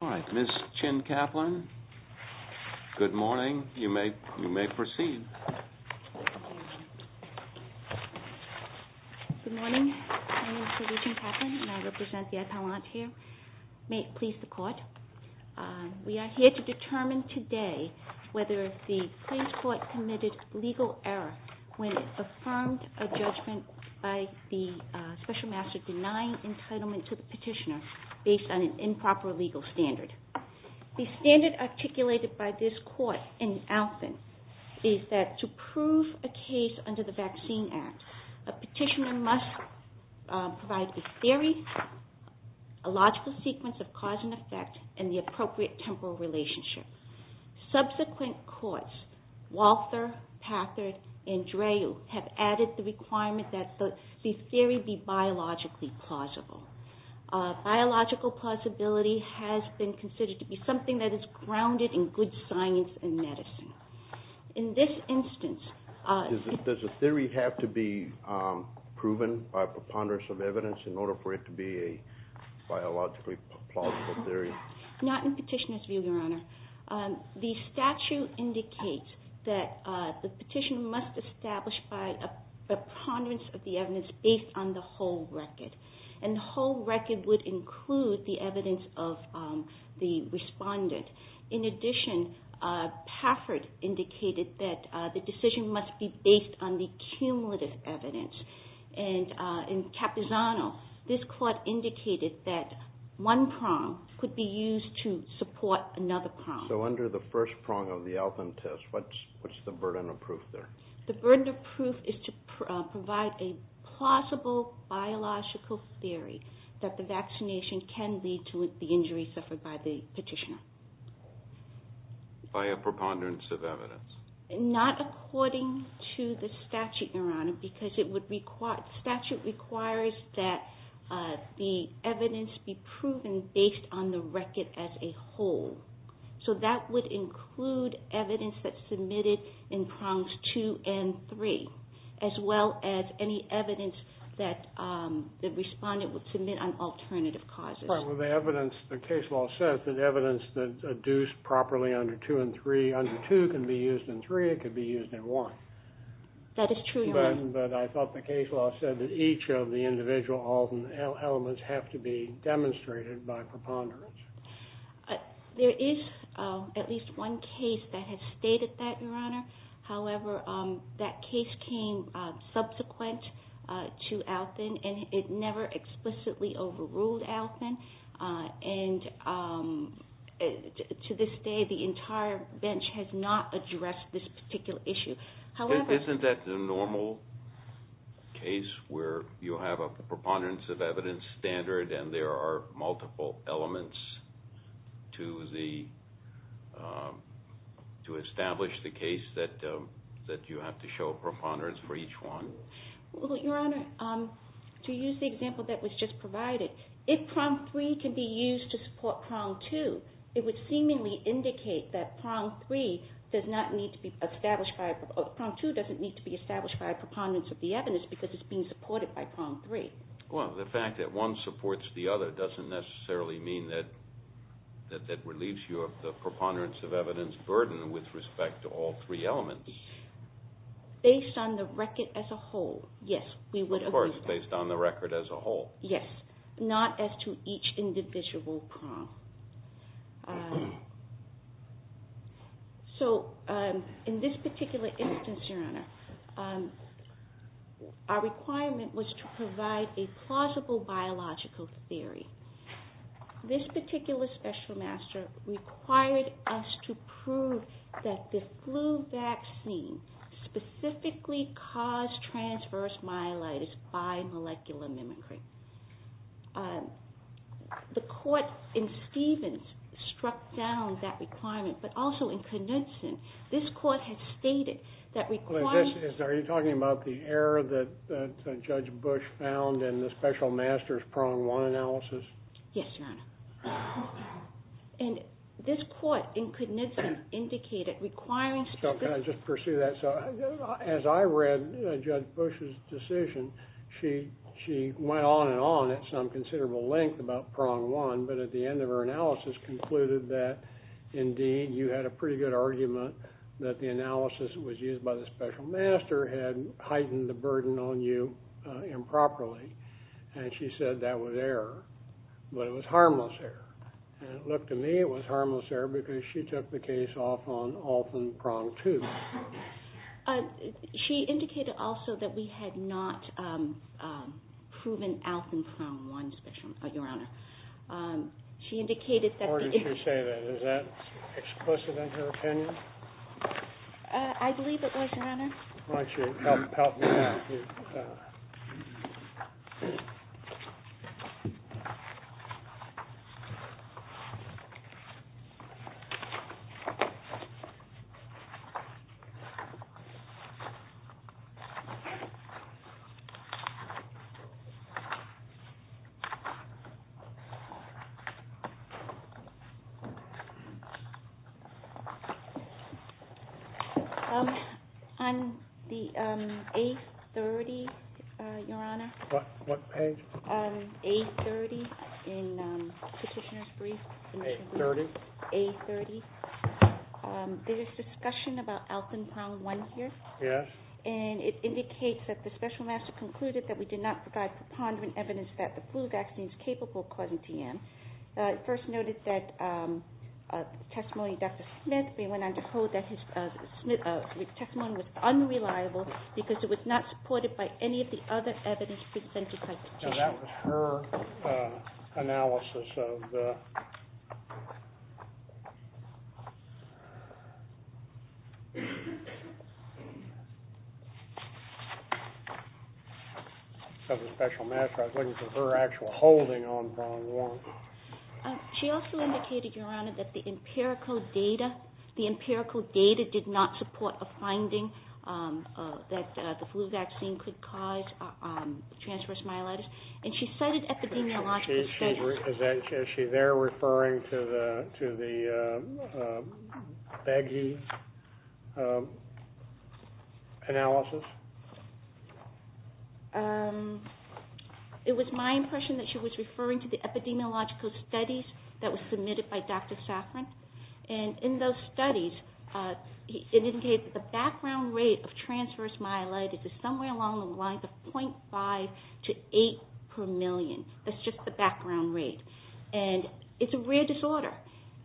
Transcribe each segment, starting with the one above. All right, Ms. Chin-Kaplan, good morning. You may proceed. Good morning. My name is Louise Chin-Kaplan, and I represent the Ad Palantier. May it please the Court. We are here to determine today whether the Clay's Court committed legal error when it affirmed a judgment by the Special Master denying entitlement to the petitioner based on an improper legal standard. The standard articulated by this Court in Alton is that to prove a case under the Vaccine Act, a petitioner must provide the theory, a logical sequence of cause and effect, and the appropriate temporal relationship. Subsequent courts, Walther, Packard, and Drew, have added the requirement that the theory be biologically plausible. Biological plausibility has been considered to be something that is grounded in good science and medicine. In this instance... Does a theory have to be proven by preponderance of evidence in order for it to be a biologically plausible theory? Not in petitioner's view, Your Honor. The statute indicates that the petitioner must establish by a preponderance of the evidence based on the whole record. And the whole record would include the evidence of the respondent. In addition, Packard indicated that the decision must be based on the cumulative evidence. And in Capisano, this Court indicated that one prong could be used to support another prong. So under the first prong of the Alton test, what's the burden of proof there? The burden of proof is to provide a plausible biological theory that the vaccination can lead to the injury suffered by the petitioner. By a preponderance of evidence? Not according to the statute, Your Honor, because the statute requires that the evidence be proven based on the record as a whole. So that would include evidence that's submitted in prongs 2 and 3, as well as any evidence that the respondent would submit on alternative causes. The evidence, the case law says that evidence that's adduced properly under 2 and 3, under 2 can be used in 3, it can be used in 1. That is true, Your Honor. But I thought the case law said that each of the individual Alton elements have to be demonstrated by preponderance. There is at least one case that has stated that, Your Honor. However, that case came subsequent to Alton, and it never explicitly overruled Alton. And to this day, the entire bench has not addressed this particular issue. Isn't that the normal case where you have a preponderance of evidence standard and there are multiple elements to establish the case that you have to show preponderance for each one? Well, Your Honor, to use the example that was just provided, if prong 3 can be used to support prong 2, it would seemingly indicate that prong 2 doesn't need to be established by a preponderance of the evidence because it's being supported by prong 3. Well, the fact that one supports the other doesn't necessarily mean that that relieves you of the preponderance of evidence burden with respect to all three elements. Based on the record as a whole, yes, we would agree with that. Of course, based on the record as a whole. Yes, not as to each individual prong. So in this particular instance, Your Honor, our requirement was to provide a plausible biological theory. This particular special master required us to prove that the flu vaccine specifically caused transverse myelitis by molecular mimicry. The court in Stevens struck down that requirement, but also in Knudsen. Are you talking about the error that Judge Bush found in the special master's prong 1 analysis? Yes, Your Honor. And this court in Knudsen indicated requiring specific... Can I just pursue that? As I read Judge Bush's decision, she went on and on at some considerable length about prong 1, but at the end of her analysis concluded that indeed you had a pretty good argument that the analysis that was used by the special master had heightened the burden on you improperly. And she said that was error. But it was harmless error. And it looked to me it was harmless error because she took the case off on Alfven prong 2. She indicated also that we had not proven Alfven prong 1 spectrum, Your Honor. She indicated that the... Where did she say that? Is that explicit in her opinion? I believe it was, Your Honor. Why don't you help me with that? On the A30, Your Honor. What page? A30 in Petitioner's Brief. A30? A30. There is discussion about Alfven prong 1 here. Yes. And it indicates that the special master concluded that we did not provide preponderant evidence that the flu vaccine is capable of causing T.M. First noted that testimony of Dr. Smith, we went on to hold that his testimony was unreliable because it was not supported by any of the other evidence presented by the petitioner. That was her analysis of the... Of the special master. I was looking for her actual holding on prong 1. She also indicated, Your Honor, that the empirical data did not support a finding that the flu vaccine could cause transverse myelitis. And she cited epidemiological studies... Is she there referring to the analysis? It was my impression that she was referring to the epidemiological studies that were submitted by Dr. Safran. And in those studies, it indicated that the background rate of transverse myelitis is somewhere along the lines of .5 to 8 per million. That's just the background rate. And it's a rare disorder.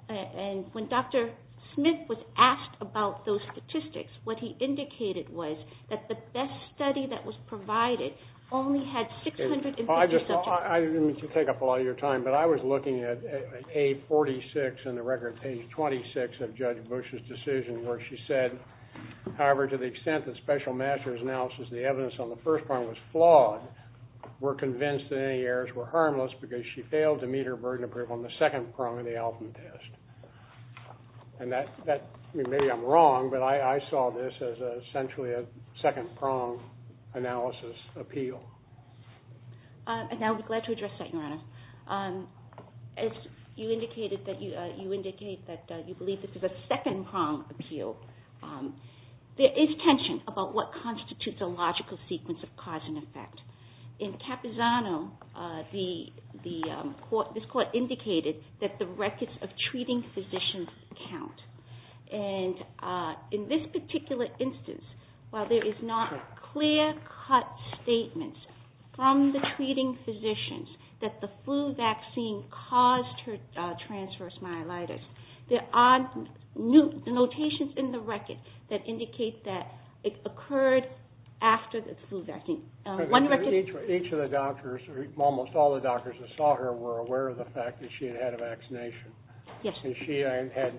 And when Dr. Smith was asked about those statistics, what he indicated was that the best study that was provided only had 650 subjects. I didn't mean to take up a lot of your time, but I was looking at A46 in the record page 26 of Judge Bush's decision where she said, However, to the extent that special master's analysis of the evidence on the first prong was flawed, we're convinced that any errors were harmless because she failed to meet her burden of proof on the second prong of the Alvin test. And that... Maybe I'm wrong, but I saw this as essentially a second prong analysis appeal. And I would be glad to address that, Your Honor. As you indicated that you believe this is a second prong appeal, there is tension about what constitutes a logical sequence of cause and effect. In Capizano, this court indicated that the records of treating physicians count. And in this particular instance, while there is not clear-cut statements from the treating physicians that the flu vaccine caused her transverse myelitis, there are notations in the record that indicate that it occurred after the flu vaccine. One record... Each of the doctors, almost all the doctors that saw her were aware of the fact that she had had a vaccination. Yes. And she had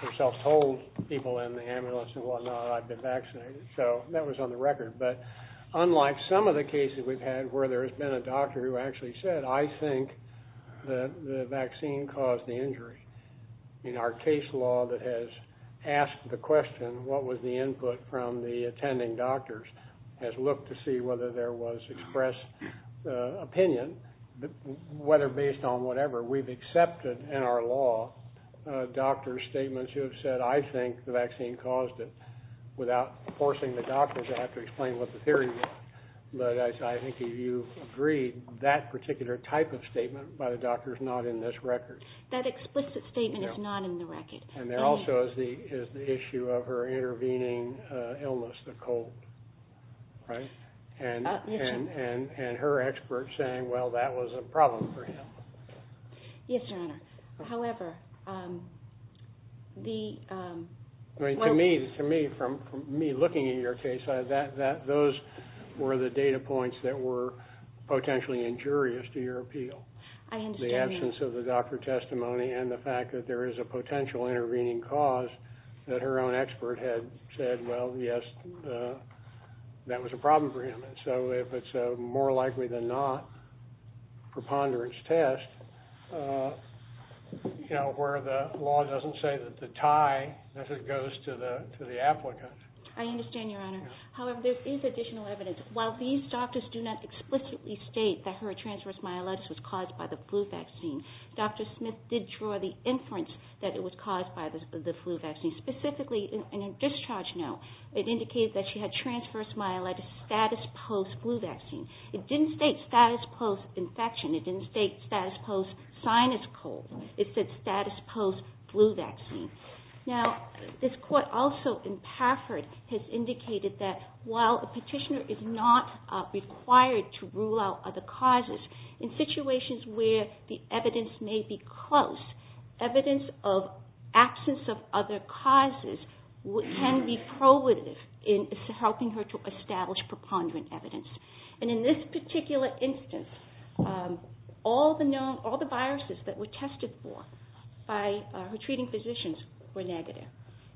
herself told people in the ambulance and whatnot, I've been vaccinated. So that was on the record. But unlike some of the cases we've had where there has been a doctor who actually said, I think the vaccine caused the injury, I mean, our case law that has asked the question, what was the input from the attending doctors, has looked to see whether there was expressed opinion, whether based on whatever we've accepted in our law, doctors' statements who have said, I think the vaccine caused it, without forcing the doctors to have to explain what the theory was. But I think you've agreed that particular type of statement by the doctor is not in this record. That explicit statement is not in the record. And there also is the issue of her intervening illness, the cold. And her expert saying, well, that was a problem for him. Yes, Your Honor. However, the... To me, from me looking at your case, those were the data points that were potentially injurious to your appeal. The absence of the doctor testimony and the fact that there is a potential intervening cause that her own expert had said, well, yes, that was a problem for him. And so if it's more likely than not preponderance test, you know, where the law doesn't say that the tie goes to the applicant. I understand, Your Honor. However, there is additional evidence. While these doctors do not explicitly state that her transverse myelitis was caused by the flu vaccine, Dr. Smith did draw the inference that it was caused by the flu vaccine. Specifically, in her discharge note, it indicated that she had transverse myelitis status post-flu vaccine. It didn't state status post-infection. It didn't state status post-sinus cold. It said status post-flu vaccine. Now, this court also, in Pafford, has indicated that while a petitioner is not required to rule out other causes, in situations where the evidence may be close, evidence of absence of other causes can be probative in helping her to establish preponderant evidence. And in this particular instance, all the viruses that were tested for by her treating physicians were negative,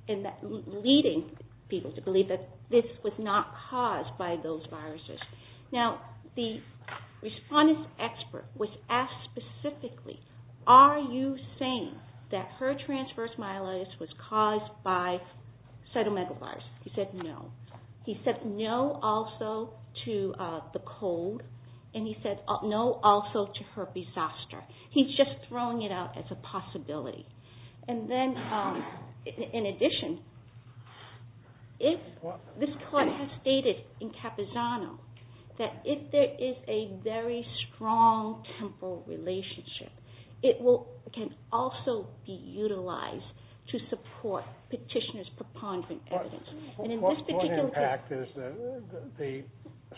leading people to believe that this was not caused by those viruses. Now, the respondent's expert was asked specifically, are you saying that her transverse myelitis was caused by cytomegalovirus? He said no. He said no also to the cold. And he said no also to herpes zoster. He's just throwing it out as a possibility. And then, in addition, this court has stated in Capizano that if there is a very strong temporal relationship, it can also be utilized to support petitioner's preponderant evidence. One impact is that the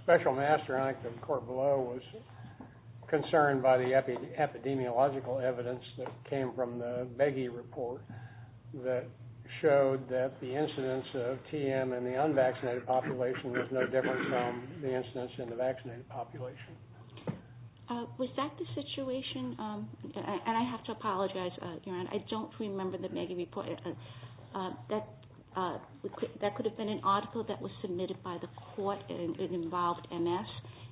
special master act of the court below was concerned by the epidemiological evidence that came from the Begge report that showed that the incidence of TM in the unvaccinated population was no different from the incidence in the vaccinated population. Was that the situation? And I have to apologize, Your Honor. I don't remember the Begge report. That could have been an article that was submitted by the court. It involved MS.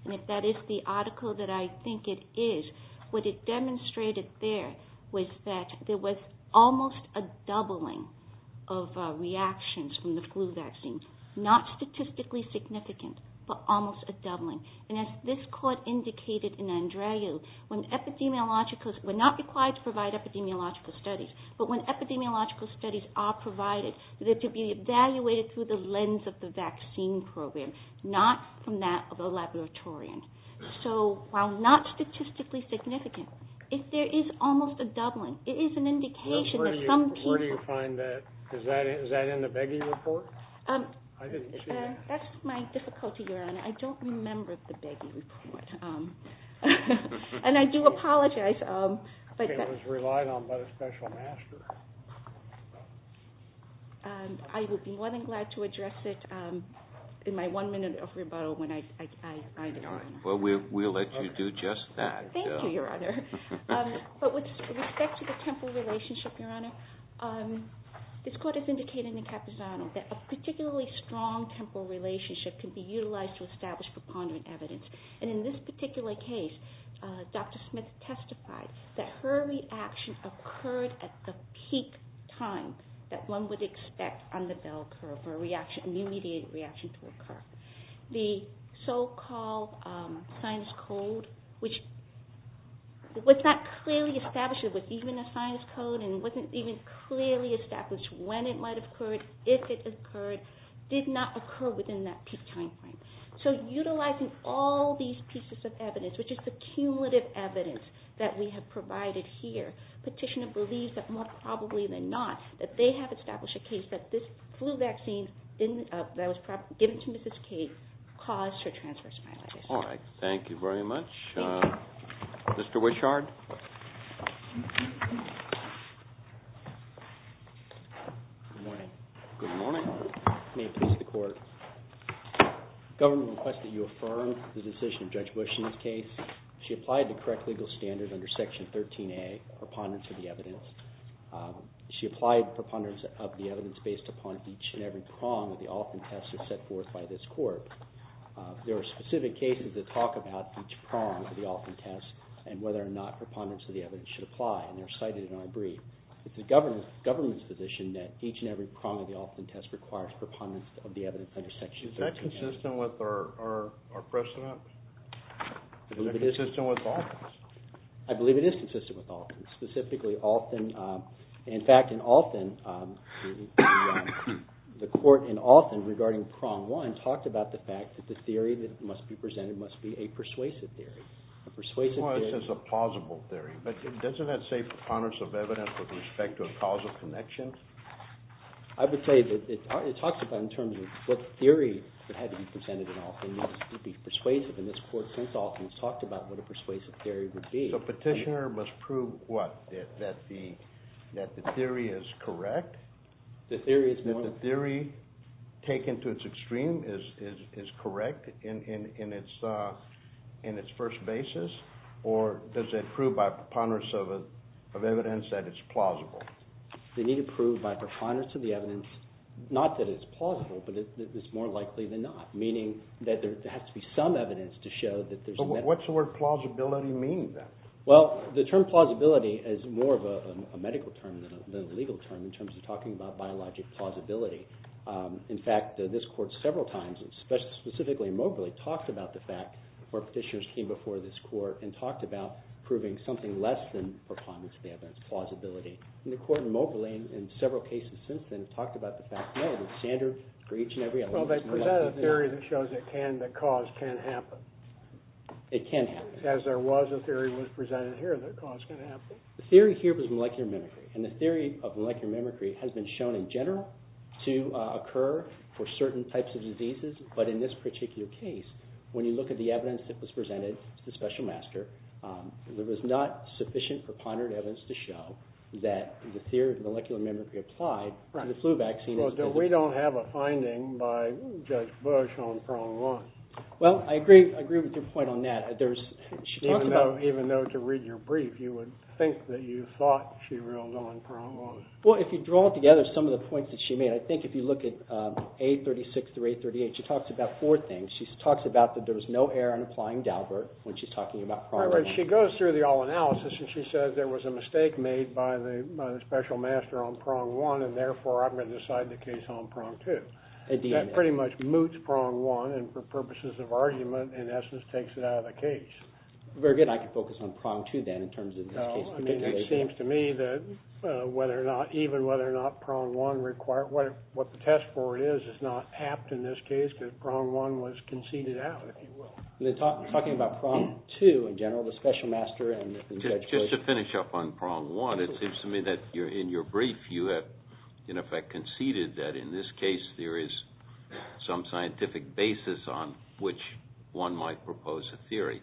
And if that is the article that I think it is, what it demonstrated there was that there was almost a doubling of reactions from the flu vaccine. Not statistically significant, but almost a doubling. And as this court indicated in Andreu, when epidemiologicals were not required to provide epidemiological studies, but when epidemiological studies are provided, they're to be evaluated through the lens of the vaccine program, not from that of a laboratorian. So while not statistically significant, there is almost a doubling. It is an indication that some people... Where do you find that? Is that in the Begge report? I didn't see that. That's my difficulty, Your Honor. I don't remember the Begge report. And I do apologize. It was relied on by the special master. I would be more than glad to address it in my one minute of rebuttal when I get on. Well, we'll let you do just that. Thank you, Your Honor. But with respect to the temporal relationship, Your Honor, this court has indicated in the Capizano that a particularly strong temporal relationship can be utilized to establish preponderant evidence. And in this particular case, Dr. Smith testified that her reaction occurred at the peak time that one would expect on the bell curve, or the immediate reaction to occur. The so-called sinus code, which was not clearly established. It was even a sinus code, and it wasn't even clearly established when it might have occurred, if it occurred, did not occur within that peak time frame. So utilizing all these pieces of evidence, which is the cumulative evidence that we have provided here, Petitioner believes that more probably than not, that they have established a case that this flu vaccine that was given to Mrs. Kate caused her transverse myelitis. All right. Thank you very much. Mr. Wishard? Good morning. Good morning. May it please the Court. The government requested you affirm the decision of Judge Bush in this case. She applied the correct legal standard under Section 13A, preponderance of the evidence. She applied preponderance of the evidence based upon each and every prong of the Alton test set forth by this court. There are specific cases that talk about each prong of the Alton test and whether or not preponderance of the evidence should apply, and they're cited in our brief. It's the government's position that each and every prong of the Alton test requires preponderance of the evidence under Section 13A. Is that consistent with our precedent? I believe it is. Is that consistent with Alton's? I believe it is consistent with Alton's, specifically Alton. In fact, in Alton, the court in Alton regarding prong one talked about the fact that the theory that must be presented must be a persuasive theory. Well, this is a plausible theory, but doesn't that say preponderance of evidence with respect to a causal connection? I would say that it talks about in terms of what theory would have to be presented in Alton. It would be persuasive, and this court since Alton has talked about what a persuasive theory would be. So petitioner must prove what? That the theory is correct? That the theory taken to its extreme is correct in its first basis, or does it prove by preponderance of evidence that it's plausible? They need to prove by preponderance of the evidence, not that it's plausible, but that it's more likely than not, meaning that there has to be some evidence to show that there's… What's the word plausibility mean then? Well, the term plausibility is more of a medical term than a legal term in terms of talking about biologic plausibility. In fact, this court several times, specifically in Moberly, talked about the fact where petitioners came before this court and talked about proving something less than preponderance of the evidence, plausibility. And the court in Moberly in several cases since then has talked about the fact, no, the standard for each and every… Well, they presented a theory that shows it can, that cause can happen. It can happen. As there was a theory presented here that cause can happen. The theory here was molecular mimicry, and the theory of molecular mimicry has been shown in general to occur for certain types of diseases. But in this particular case, when you look at the evidence that was presented to the special master, there was not sufficient preponderant evidence to show that the theory of molecular mimicry applied to the flu vaccine. Well, we don't have a finding by Judge Bush on prong one. Well, I agree with your point on that. Even though, to read your brief, you would think that you thought she ruled on prong one. Well, if you draw together some of the points that she made, I think if you look at A36 through A38, she talks about four things. She talks about that there was no error in applying Daubert when she's talking about prong one. She goes through the all analysis, and she says there was a mistake made by the special master on prong one, and therefore I'm going to decide the case on prong two. That pretty much moots prong one, and for purposes of argument, in essence, takes it out of the case. Very good. I can focus on prong two, then, in terms of this case. No, I mean, it seems to me that whether or not, even whether or not prong one required, what the test for it is, is not apt in this case because prong one was conceded out, if you will. Talking about prong two in general, the special master and Judge Bush. Just to finish up on prong one, it seems to me that in your brief you have, in effect, conceded that in this case there is some scientific basis on which one might propose a theory.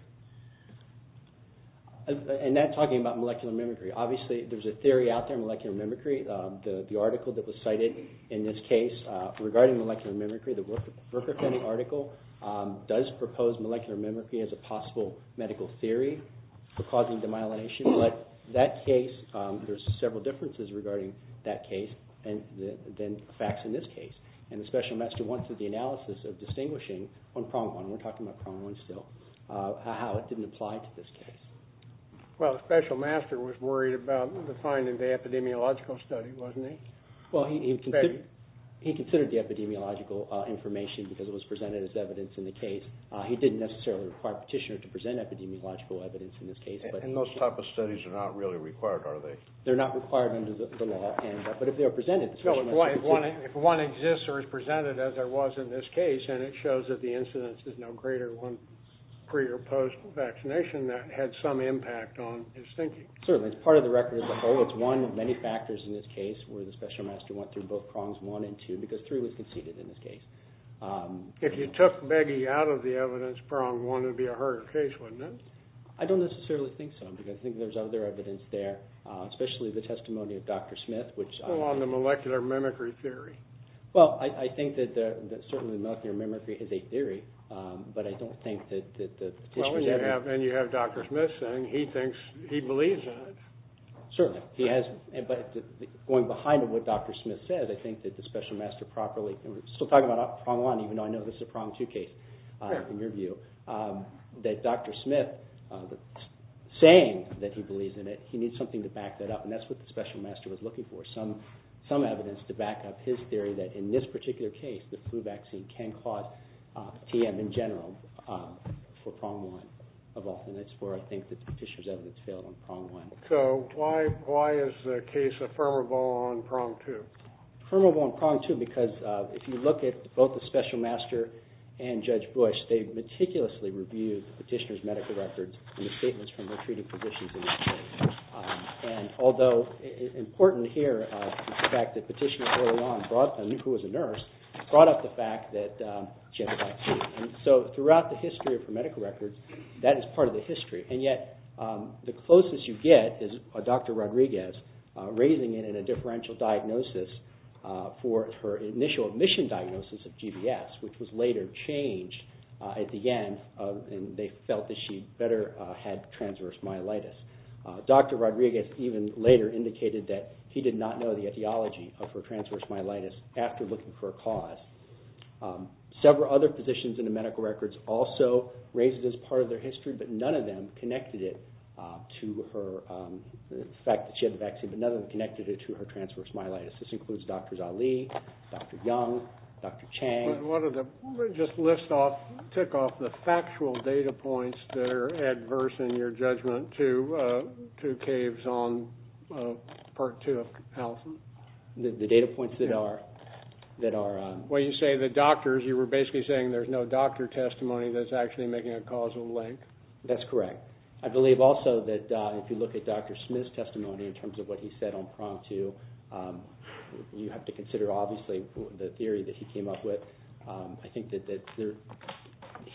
And that's talking about molecular mimicry. There's several differences regarding that case than facts in this case, and the special master went through the analysis of distinguishing on prong one. We're talking about prong one still, how it didn't apply to this case. Well, the special master was worried about the finding of the epidemiological study, wasn't he? Well, he considered the epidemiological information because it was presented as evidence in the case. He didn't necessarily require Petitioner to present epidemiological evidence in this case. And those type of studies are not really required, are they? They're not required under the law, but if they are presented, the special master can take them. If one exists or is presented, as there was in this case, and it shows that the incidence is no greater than pre- or post-vaccination, that had some impact on his thinking. Certainly. It's part of the record as a whole. It's one of many factors in this case where the special master went through both prongs one and two because three was conceded in this case. If you took Beggy out of the evidence prong one, it would be a harder case, wouldn't it? I don't necessarily think so, because I think there's other evidence there, especially the testimony of Dr. Smith, which... Well, on the molecular mimicry theory. Well, I think that certainly molecular mimicry is a theory, but I don't think that the... Well, and you have Dr. Smith saying he thinks, he believes in it. Certainly. He has, but going behind what Dr. Smith said, I think that the special master properly, and we're still talking about prong one even though I know this is a prong two case in your view, that Dr. Smith saying that he believes in it, he needs something to back that up, and that's what the special master was looking for, some evidence to back up his theory that in this particular case, the flu vaccine can cause TM in general for prong one of all. And that's where I think the petitioner's evidence failed on prong one. So why is the case affirmable on prong two? Affirmable on prong two because if you look at both the special master and Judge Bush, they meticulously reviewed the petitioner's medical records and the statements from their treating physicians. And although important here is the fact that Petitioner early on, who was a nurse, brought up the fact that she had the vaccine. And so throughout the history of her medical record, that is part of the history, and yet the closest you get is Dr. Rodriguez raising it in a differential diagnosis for her initial admission diagnosis of GBS, which was later changed at the end, and they felt that she better had transverse myelitis. Dr. Rodriguez even later indicated that he did not know the etiology of her transverse myelitis after looking for a cause. Several other physicians in the medical records also raised it as part of their history, but none of them connected it to the fact that she had the vaccine, but none of them connected it to her transverse myelitis. This includes Drs. Ali, Dr. Young, Dr. Chang. Let me just tick off the factual data points that are adverse in your judgment to caves on part two of Allison. The data points that are? Well, you say the doctors. You were basically saying there's no doctor testimony that's actually making a causal link. That's correct. I believe also that if you look at Dr. Smith's testimony in terms of what he said on prong two, you have to consider obviously the theory that he came up with. I think that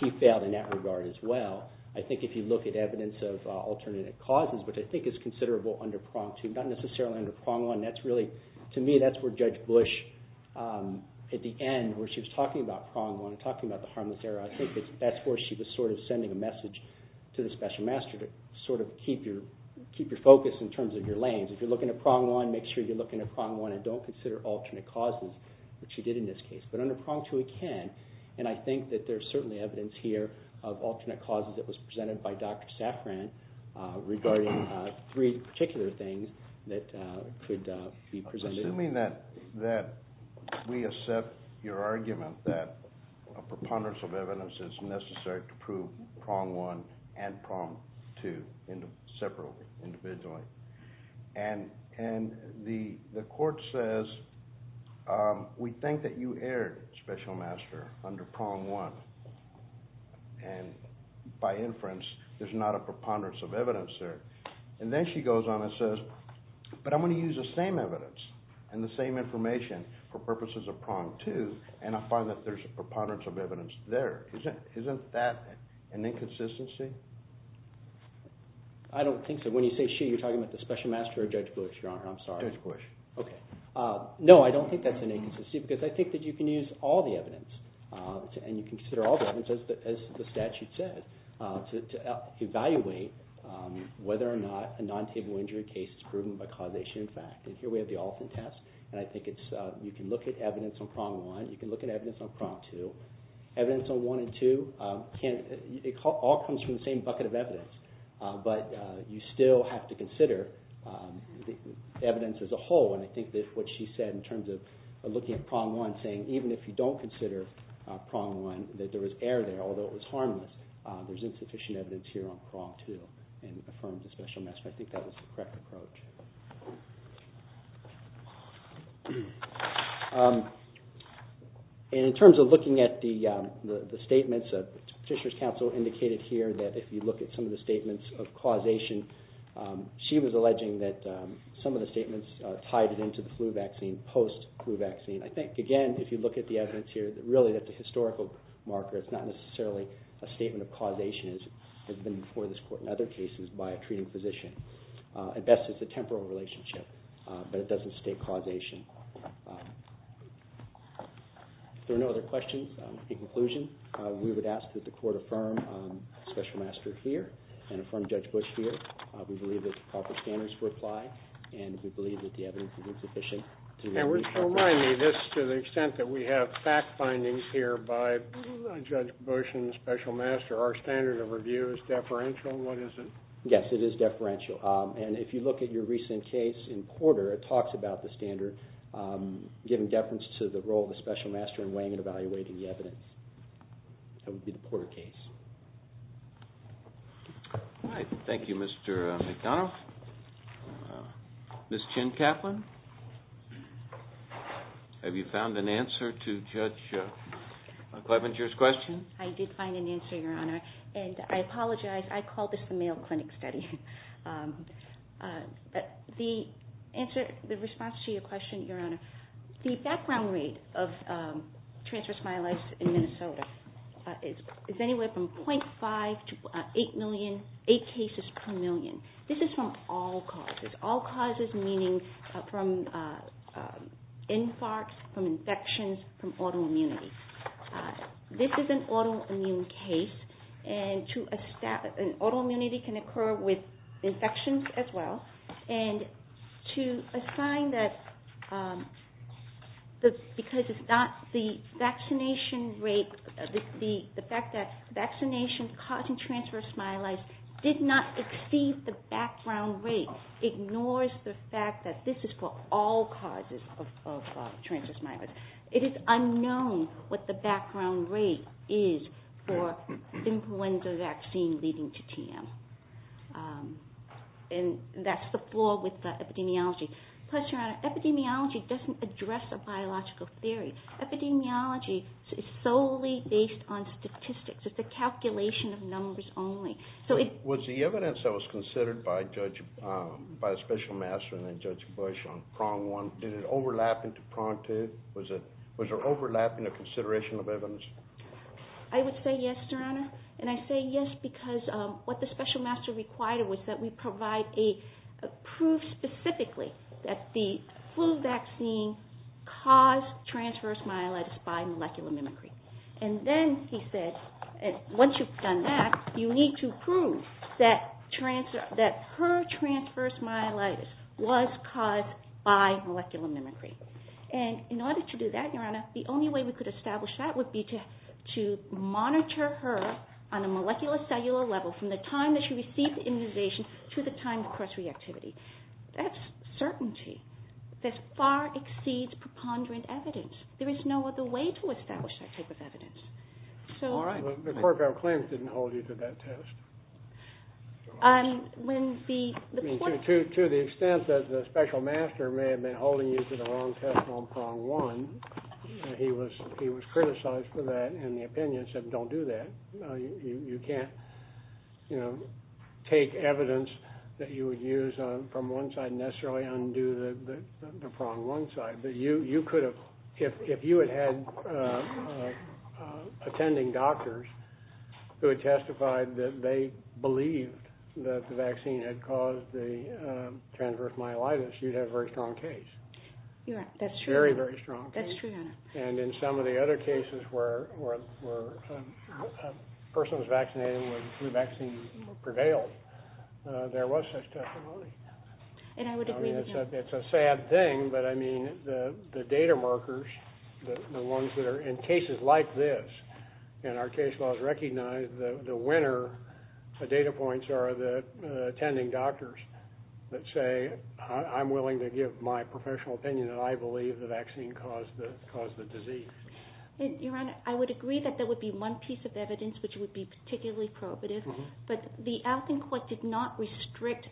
he failed in that regard as well. I think if you look at evidence of alternative causes, which I think is considerable under prong two, not necessarily under prong one, to me that's where Judge Bush at the end, where she was talking about prong one and talking about the harmless error, I think that's where she was sort of sending a message to the special master to sort of keep your focus in terms of your lanes. If you're looking at prong one, make sure you're looking at prong one and don't consider alternate causes, which she did in this case. But under prong two it can, and I think that there's certainly evidence here of alternate causes that was presented by Dr. Safran regarding three particular things that could be presented. Assuming that we accept your argument that a preponderance of evidence is necessary to prove prong one and prong two separately, individually, and the court says we think that you erred, special master, under prong one, and by inference there's not a preponderance of evidence there. And then she goes on and says, but I'm going to use the same evidence and the same information for purposes of prong two and I find that there's a preponderance of evidence there. Isn't that an inconsistency? I don't think so. When you say she, you're talking about the special master or Judge Bush, Your Honor. I'm sorry. Judge Bush. Okay. No, I don't think that's an inconsistency because I think that you can use all the evidence and you can consider all the evidence, as the statute says, to evaluate whether or not a non-table injury case is proven by causation and fact. And here we have the Alton test and I think it's, you can look at evidence on prong one, you can look at evidence on prong two. Evidence on one and two can, it all comes from the same bucket of evidence, but you still have to consider the evidence as a whole and I think that what she said in terms of looking at prong one, saying even if you don't consider prong one, that there was error there, although it was harmless, there's insufficient evidence here on prong two and affirms the special master. I think that was the correct approach. And in terms of looking at the statements, Fisher's counsel indicated here that if you look at some of the statements of causation, she was alleging that some of the statements tied it into the flu vaccine, post-flu vaccine. I think, again, if you look at the evidence here, really that the historical marker, it's not necessarily a statement of causation as has been before this court in other cases by a treating physician. At best, it's a temporal relationship, but it doesn't state causation. If there are no other questions, in conclusion, we would ask that the court affirm special master here and affirm Judge Bush here. We believe that the proper standards would apply and we believe that the evidence is insufficient. And remind me, this, to the extent that we have fact findings here by Judge Bush and the special master, our standard of review is deferential? What is it? Yes, it is deferential. And if you look at your recent case in Porter, it talks about the standard giving deference to the role of the special master in weighing and evaluating the evidence. That would be the Porter case. Thank you, Mr. McDonough. Ms. Chin-Kaplan, have you found an answer to Judge Clevenger's question? I did find an answer, Your Honor, and I apologize. I call this the male clinic study. The response to your question, Your Honor, the background rate of transverse myelitis in Minnesota is anywhere from 0.5 to 8 million, 8 cases per million. This is from all causes, all causes meaning from infarcts, from infections, from autoimmunity. This is an autoimmune case and autoimmunity can occur with infections as well. And to assign that because it's not the vaccination rate, the fact that vaccination causing transverse myelitis did not exceed the background rate ignores the fact that this is for all causes of transverse myelitis. It is unknown what the background rate is for influenza vaccine leading to TM. And that's the flaw with the epidemiology. Plus, Your Honor, epidemiology doesn't address a biological theory. Epidemiology is solely based on statistics. It's a calculation of numbers only. Was the evidence that was considered by the special master and then Judge Bush on prong one, did it overlap into prong two? Was there overlap in the consideration of evidence? I would say yes, Your Honor. And I say yes because what the special master required was that we provide a proof specifically that the flu vaccine caused transverse myelitis by molecular mimicry. And then he said, once you've done that, you need to prove that her transverse myelitis was caused by molecular mimicry. And in order to do that, Your Honor, the only way we could establish that would be to monitor her on a molecular cellular level from the time that she received the immunization to the time of cross-reactivity. That's certainty. That far exceeds preponderant evidence. There is no other way to establish that type of evidence. All right. But Corkow claims didn't hold you to that test. To the extent that the special master may have been holding you to the wrong test on prong one, he was criticized for that in the opinion and said, don't do that. You can't, you know, take evidence that you would use from one side and necessarily undo the prong one side. If you had had attending doctors who had testified that they believed that the vaccine had caused the transverse myelitis, you'd have a very strong case. Yeah, that's true. Very, very strong case. That's true, Your Honor. And in some of the other cases where a person was vaccinated and the flu vaccine prevailed, there was such testimony. And I would agree with you. I mean, it's a sad thing, but, I mean, the data markers, the ones that are in cases like this, and our case laws recognize the winner, the data points are the attending doctors that say, I'm willing to give my professional opinion that I believe the vaccine caused the disease. Your Honor, I would agree that there would be one piece of evidence which would be particularly probative, but the Alton Court did not restrict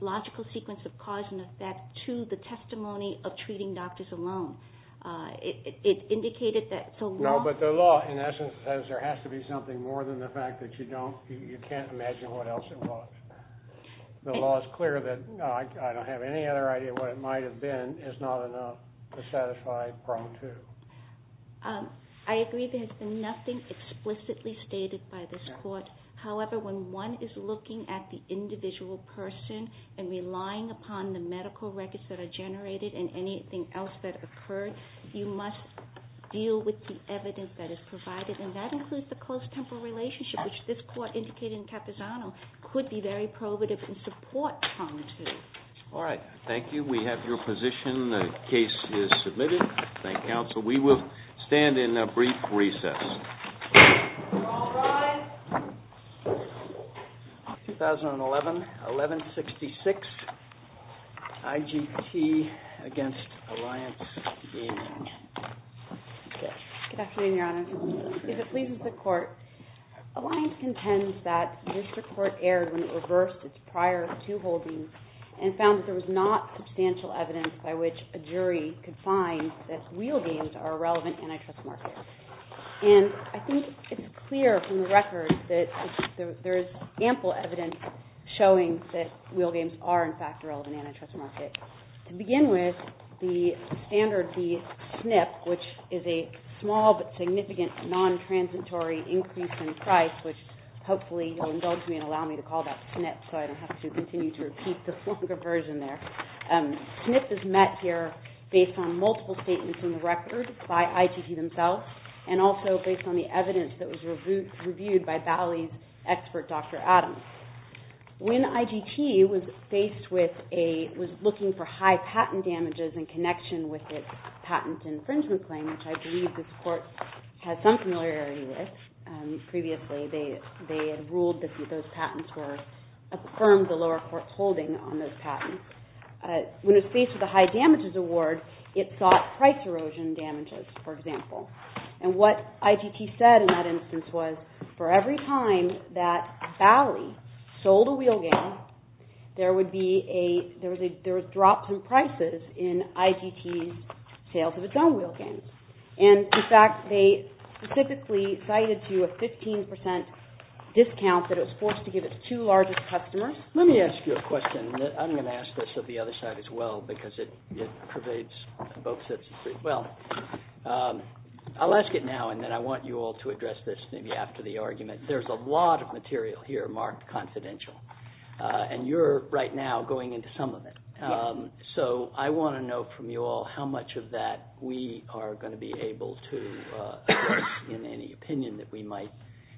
logical sequence of cause and effect to the testimony of treating doctors alone. It indicated that the law... No, but the law, in essence, says there has to be something more than the fact that you don't, you can't imagine what else it was. The law is clear that I don't have any other idea what it might have been is not enough to satisfy Pro 2. I agree there's been nothing explicitly stated by this court. However, when one is looking at the individual person and relying upon the medical records that are generated and anything else that occurred, you must deal with the evidence that is provided. And that includes the close temporal relationship, which this court indicated in Capizano could be very probative and support Pro 2. All right. Thank you. We have your position. The case is submitted. Thank you, counsel. We will stand in a brief recess. You're all rise. 2011-11-66, IGT against Alliance Gaming. Good afternoon, Your Honor. If it pleases the Court, Alliance contends that the district court erred when it reversed its prior two holdings and found that there was not substantial evidence by which a jury could find that wheel games are a relevant antitrust market. And I think it's clear from the record that there is ample evidence showing that wheel games are, in fact, a relevant antitrust market. To begin with, the standard, the SNP, which is a small but significant non-transitory increase in price, which hopefully you'll indulge me and allow me to call that SNP so I don't have to continue to repeat this longer version there. SNP is met here based on multiple statements in the record by IGT themselves and also based on the evidence that was reviewed by Bali's expert, Dr. Adams. When IGT was looking for high patent damages in connection with its patent infringement claim, which I believe this Court had some familiarity with previously, they had ruled that those patents were affirmed the lower court's holding on those patents. When it was faced with a high damages award, it sought price erosion damages, for example. And what IGT said in that instance was, for every time that Bali sold a wheel game, there would be drops in prices in IGT's sales of its own wheel games. And, in fact, they specifically cited to a 15% discount that it was forced to give its two largest customers. Let me ask you a question. I'm going to ask this of the other side as well because it pervades both sides. Well, I'll ask it now and then I want you all to address this maybe after the argument. There's a lot of material here marked confidential, and you're right now going into some of it. So I want to know from you all how much of that we are going to be able to address in any opinion that we might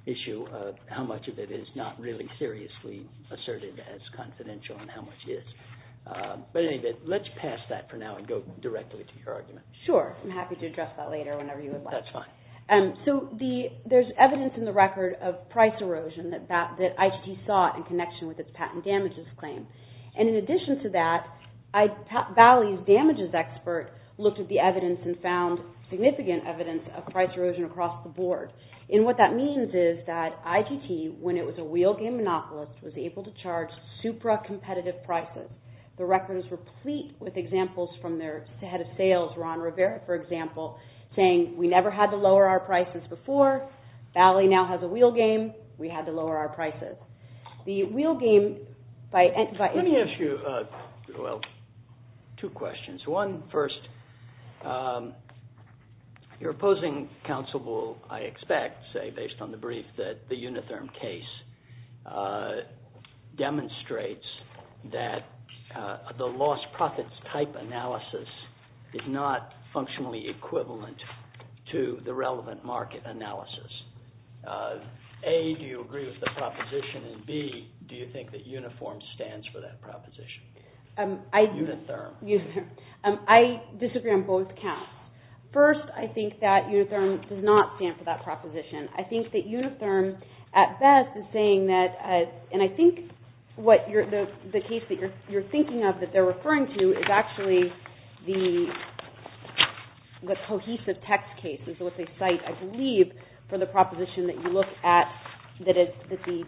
issue, how much of it is not really seriously asserted as confidential and how much is. But anyway, let's pass that for now and go directly to your argument. Sure. I'm happy to address that later whenever you would like. That's fine. So there's evidence in the record of price erosion that IGT sought in connection with its patent damages claim. And in addition to that, Bali's damages expert looked at the evidence and found significant evidence of price erosion across the board. And what that means is that IGT, when it was a wheel game monopolist, was able to charge supra-competitive prices. The record is replete with examples from their head of sales, Ron Rivera, for example, saying we never had to lower our prices before. Bali now has a wheel game. We had to lower our prices. Let me ask you two questions. One, first, your opposing counsel will, I expect, say based on the brief, that the Unitherm case demonstrates that the lost profits type analysis is not functionally equivalent to the relevant market analysis. A, do you agree with the proposition? And B, do you think that Unitherm stands for that proposition? Unitherm. I disagree on both counts. First, I think that Unitherm does not stand for that proposition. I think that Unitherm, at best, is saying that, and I think the case that you're thinking of that they're referring to is actually the cohesive text case is what they cite, I believe, for the proposition that you look at, that the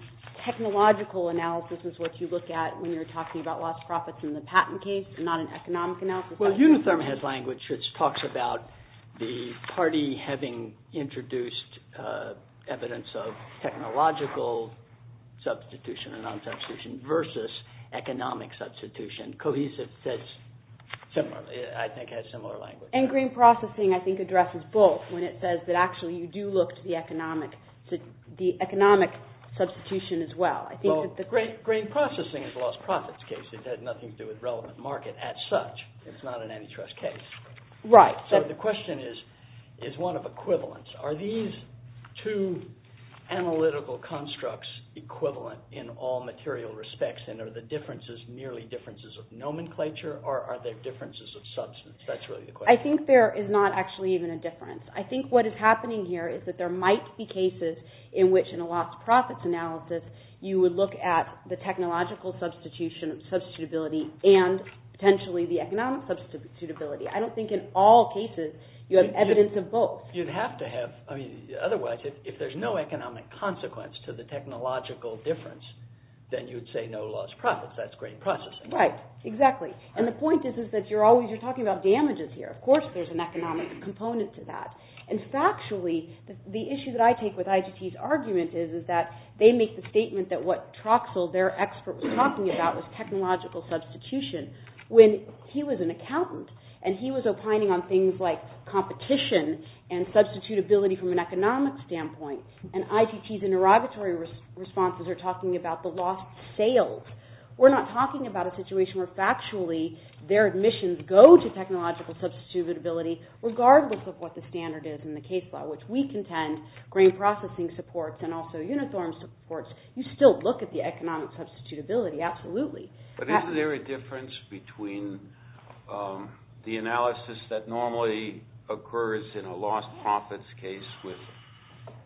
technological analysis is what you look at when you're talking about lost profits in the patent case and not an economic analysis. Well, Unitherm has language which talks about the party having introduced evidence of technological substitution and non-substitution versus economic substitution. Cohesive says similarly. I think it has similar language. And grain processing, I think, addresses both when it says that actually you do look to the economic substitution as well. Well, grain processing is a lost profits case. It has nothing to do with relevant market as such. It's not an antitrust case. Right. So the question is, is one of equivalence. Are these two analytical constructs equivalent in all material respects? And are the differences merely differences of nomenclature or are they differences of substance? That's really the question. I think there is not actually even a difference. I think what is happening here is that there might be cases in which in a lost profits analysis you would look at the technological substitution, substitutability, and potentially the economic substitutability. I don't think in all cases you have evidence of both. You'd have to have. Otherwise, if there's no economic consequence to the technological difference, then you'd say no lost profits. That's grain processing. Right. Exactly. And the point is that you're always talking about damages here. Of course there's an economic component to that. is that they make the statement that what Troxel, their expert, was talking about was technological substitution when he was an accountant and he was opining on things like competition and substitutability from an economic standpoint. And ITT's interrogatory responses are talking about the lost sales. We're not talking about a situation where factually their admissions go to technological substitutability regardless of what the standard is in the case law, which we contend grain processing supports and also Unithorm supports. You still look at the economic substitution. Absolutely. But isn't there a difference between the analysis that normally occurs in a lost profits case with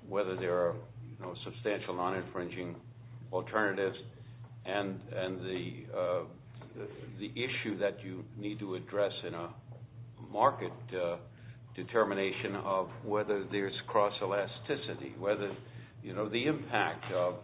whether there are substantial non-infringing alternatives and the issue that you need to address in a market determination of whether there's cross-elasticity, whether the impact of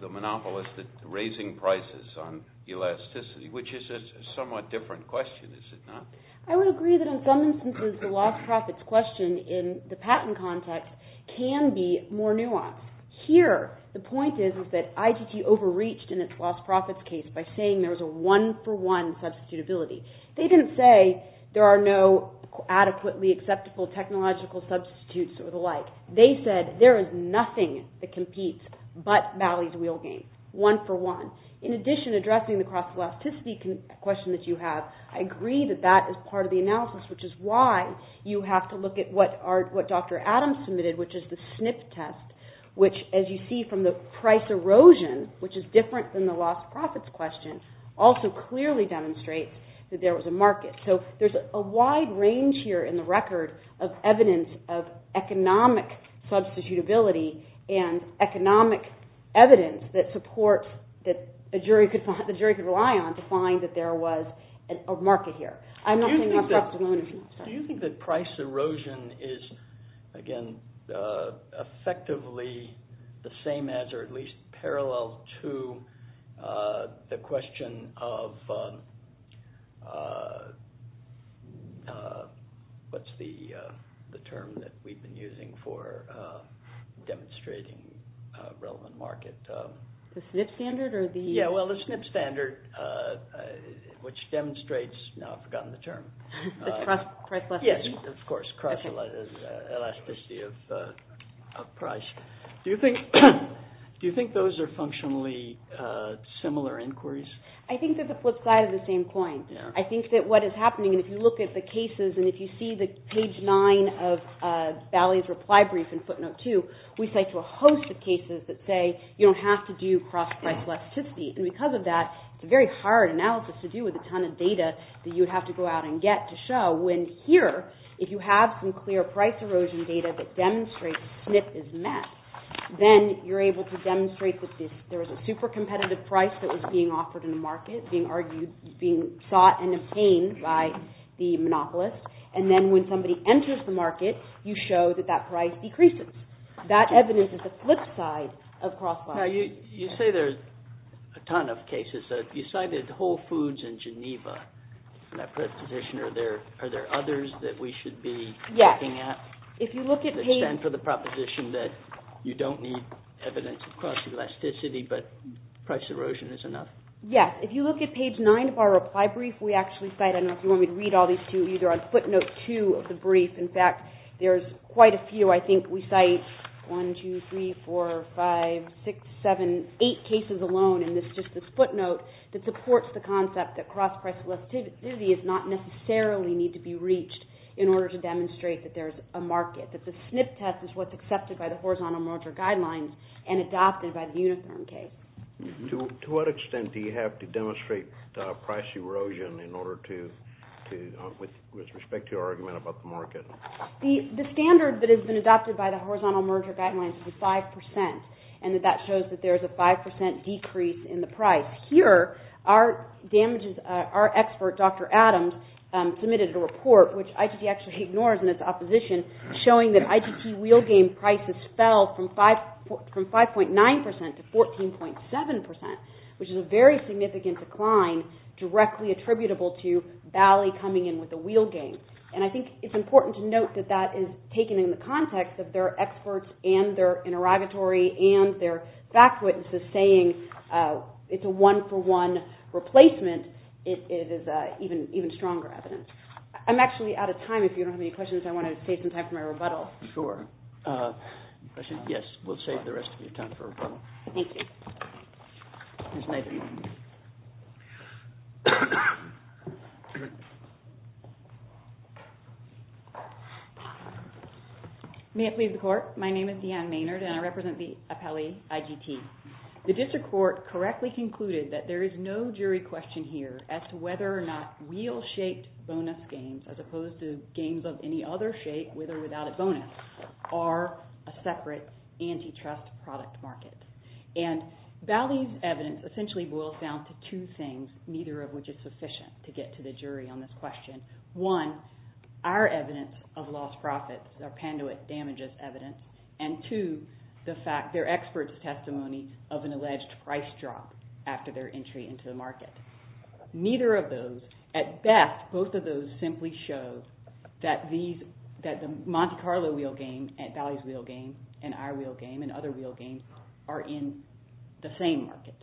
the monopolistic raising prices on elasticity, which is a somewhat different question, is it not? I would agree that in some instances the lost profits question in the patent context can be more nuanced. Here the point is that ITT overreached in its lost profits case by saying there was a one-for-one substitutability. They didn't say there are no adequately acceptable technological substitutes or the like. They said there is nothing that competes with Bally's wheel game. One-for-one. In addition, addressing the cross-elasticity question that you have, I agree that that is part of the analysis, which is why you have to look at what Dr. Adams submitted, which is the SNP test, which as you see from the price erosion, which is different than the lost profits question, also clearly demonstrates that there was a market. So there's a wide range here in the record of evidence of economic substitutability and economic evidence that supports, that the jury could rely on to find that there was a market here. I'm not saying lost profits alone. Do you think that price erosion is, again, effectively the same as, or at least parallel to, the question of, what's the term that we've been using for demonstrating relevant market? The SNP standard? Yeah, well, the SNP standard, which demonstrates, now I've forgotten the term. Price elasticity. Yes, of course, cross-elasticity of price. Do you think those are functionally similar inquiries? I think that the flip side is the same coin. I think that what is happening, and if you look at the cases, and if you see the page nine of Bally's reply brief in footnote two, we cite a host of cases that say you don't have to do cross-price elasticity. And because of that, it's a very hard analysis to do with a ton of data that you would have to go out and get to show, when here, if you have some clear price erosion data that demonstrates SNP is met, then you're able to demonstrate that there was a super competitive price that was being offered in the market, being sought and obtained by the monopolist. And then when somebody enters the market, you show that that price decreases. That evidence is the flip side of cross-price. Now, you say there's a ton of cases. You cited Whole Foods in Geneva, and that proposition, are there others that we should be looking at? Yes, if you look at page... That stand for the proposition that you don't need evidence of cross-elasticity, but price erosion is enough? Yes, if you look at page nine of our reply brief, we actually cite, and I don't know if you want me to read all these two, either on footnote two of the brief. In fact, there's quite a few. I think we cite one, two, three, four, five, six, seven, eight cases alone in just this footnote that supports the concept that cross-price elasticity does not necessarily need to be reached in order to demonstrate that there's a market, that the SNP test is what's accepted by the horizontal merger guidelines and adopted by the Unitherm case. To what extent do you have to demonstrate price erosion in order to, with respect to your argument about the market? The standard that has been adopted by the horizontal merger guidelines is 5%, and that shows that there's a 5% decrease in the price. Here, our expert, Dr. Adams, submitted a report, which IGT actually ignores in its opposition, showing that IGT wheel game prices fell from 5.9% to 14.7%, which is a very significant decline directly attributable to Valley coming in with a wheel game. And I think it's important to note that that is taken in the context of their experts and their interrogatory and their back witnesses saying it's a one-for-one replacement. It is even stronger evidence. I'm actually out of time. If you don't have any questions, I want to save some time for my rebuttal. Sure. Yes, we'll save the rest of your time for rebuttal. Thank you. Here's Nathan. May it please the court. My name is Deanne Maynard, and I represent the appellee IGT. The district court correctly concluded that there is no jury question here as to whether or not wheel-shaped bonus games, as opposed to games of any other shape, with or without a bonus, are a separate antitrust product market. And Valley's evidence essentially boils down to two things, number one, neither of which is sufficient to get to the jury on this question. One, our evidence of lost profits, our Panduit damages evidence, and two, their experts' testimony of an alleged price drop after their entry into the market. Neither of those, at best, both of those simply show that the Monte Carlo wheel game and Valley's wheel game and our wheel game and other wheel games are in the same market.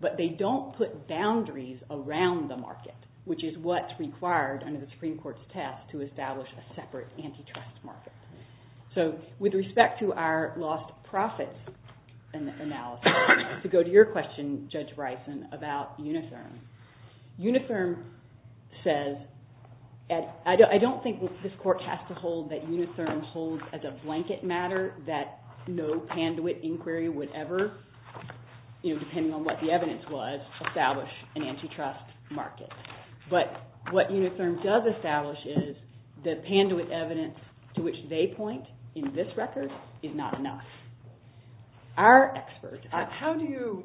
But they don't put boundaries around the market, which is what's required under the Supreme Court's test to establish a separate antitrust market. So with respect to our lost profits analysis, to go to your question, Judge Bryson, about Unitherm. Unitherm says, I don't think this court has to hold that Unitherm holds as a blanket matter that no Panduit inquiry would ever, depending on what the evidence was, establish an antitrust market. But what Unitherm does establish is that Panduit evidence to which they point in this record is not enough. Our experts... How do you...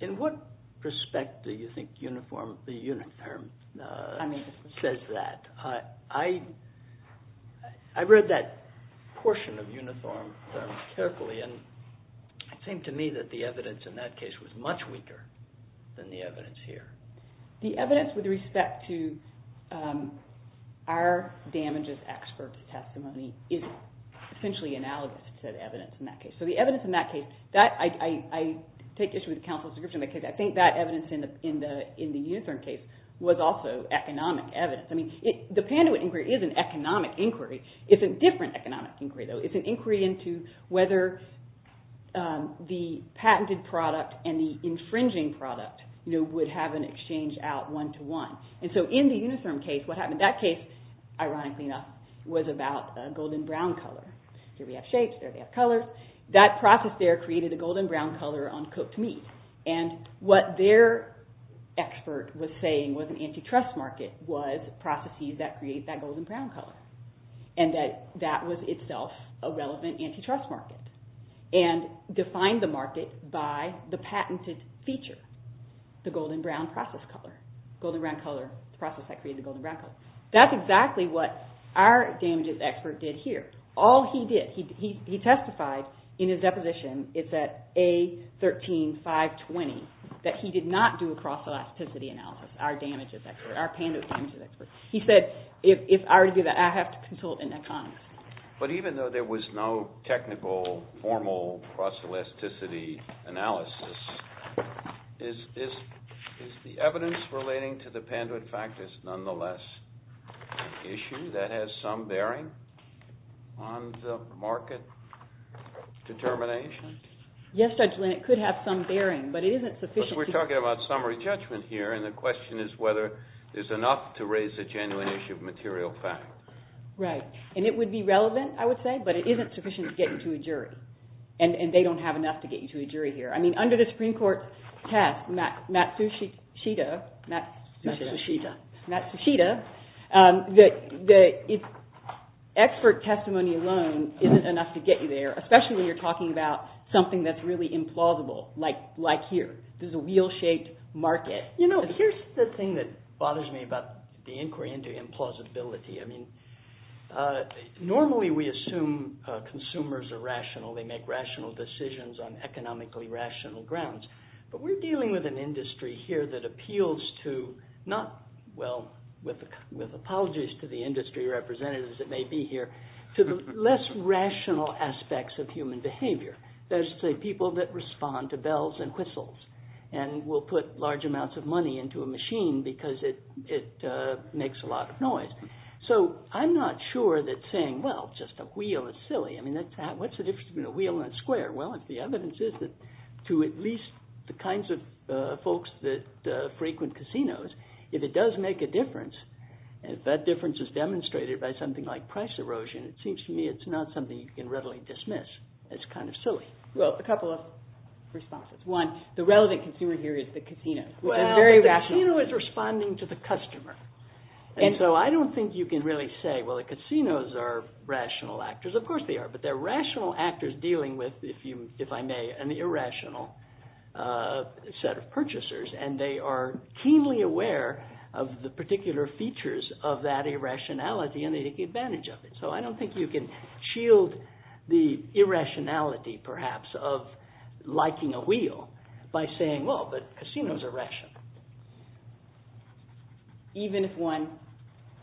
In what respect do you think Unitherm says that? I read that portion of Unitherm carefully and it seemed to me that the evidence in that case was much weaker than the evidence here. The evidence with respect to our damages expert's testimony is essentially analogous to the evidence in that case. So the evidence in that case, I take issue with counsel's description because I think that evidence in the Unitherm case was also economic evidence. The Panduit inquiry is an economic inquiry. It's a different economic inquiry though. But the patented product and the infringing product would have an exchange out one to one. And so in the Unitherm case, what happened in that case, ironically enough, was about a golden brown color. Here we have shapes, there we have colors. That process there created a golden brown color on cooked meat. And what their expert was saying was an antitrust market was processes that create that golden brown color. And that was itself a relevant antitrust market. And defined the market by the patented feature, the golden brown process color. The process that created the golden brown color. That's exactly what our damages expert did here. All he did, he testified in his deposition, it's at A13520, that he did not do a cross-elasticity analysis, our damages expert. He said, if I were to do that, I have to consult an economist. But even though there was no technical formal cross-elasticity analysis, is the evidence relating to the patent nonetheless an issue that has some bearing on the market determination? Yes, Judge Lin, it could have some bearing, but it isn't sufficient. Because we're talking about summary judgment here, and the question is whether there's enough to raise a genuine issue of material fact. Right. And it would be relevant, I would say, but it isn't sufficient to get you to a jury. And they don't have enough to get you to a jury here. I mean, under the Supreme Court test, Matsushita, Matsushita, Matsushita, expert testimony alone isn't enough to get you there, especially when you're talking about something that's really implausible, like here. There's a wheel-shaped market. You know, here's the thing that bothers me about the inquiry into implausibility. I mean, normally we assume consumers are rational, they make rational decisions on economically rational grounds. But we're dealing with an industry here that appeals to not, well, with apologies to the industry representatives that may be here, to the less rational aspects of human behavior. That is to say, people that respond to bells and whistles. And we'll put large amounts of money into a machine because it makes a lot of noise. So I'm not sure that saying, well, just a wheel is silly. I mean, what's the difference between a wheel and a square? Well, if the evidence is that to at least the kinds of folks that frequent casinos, if it does make if that difference is demonstrated by something like price erosion, it seems to me it's not something you can readily dismiss as kind of silly. Well, a couple of responses. One, the relevant consumer here is the casino. Well, the casino is responding to the customer. And so I don't think you can really say, well, the casinos are rational actors. Of course they are. But they're rational actors dealing with, if I may, an irrational set of purchasers. And they are keenly aware of the particular features of that irrationality and they take advantage of it. So I don't think you can shield the irrationality perhaps of liking a wheel by saying, well, but casinos are rational. Even if one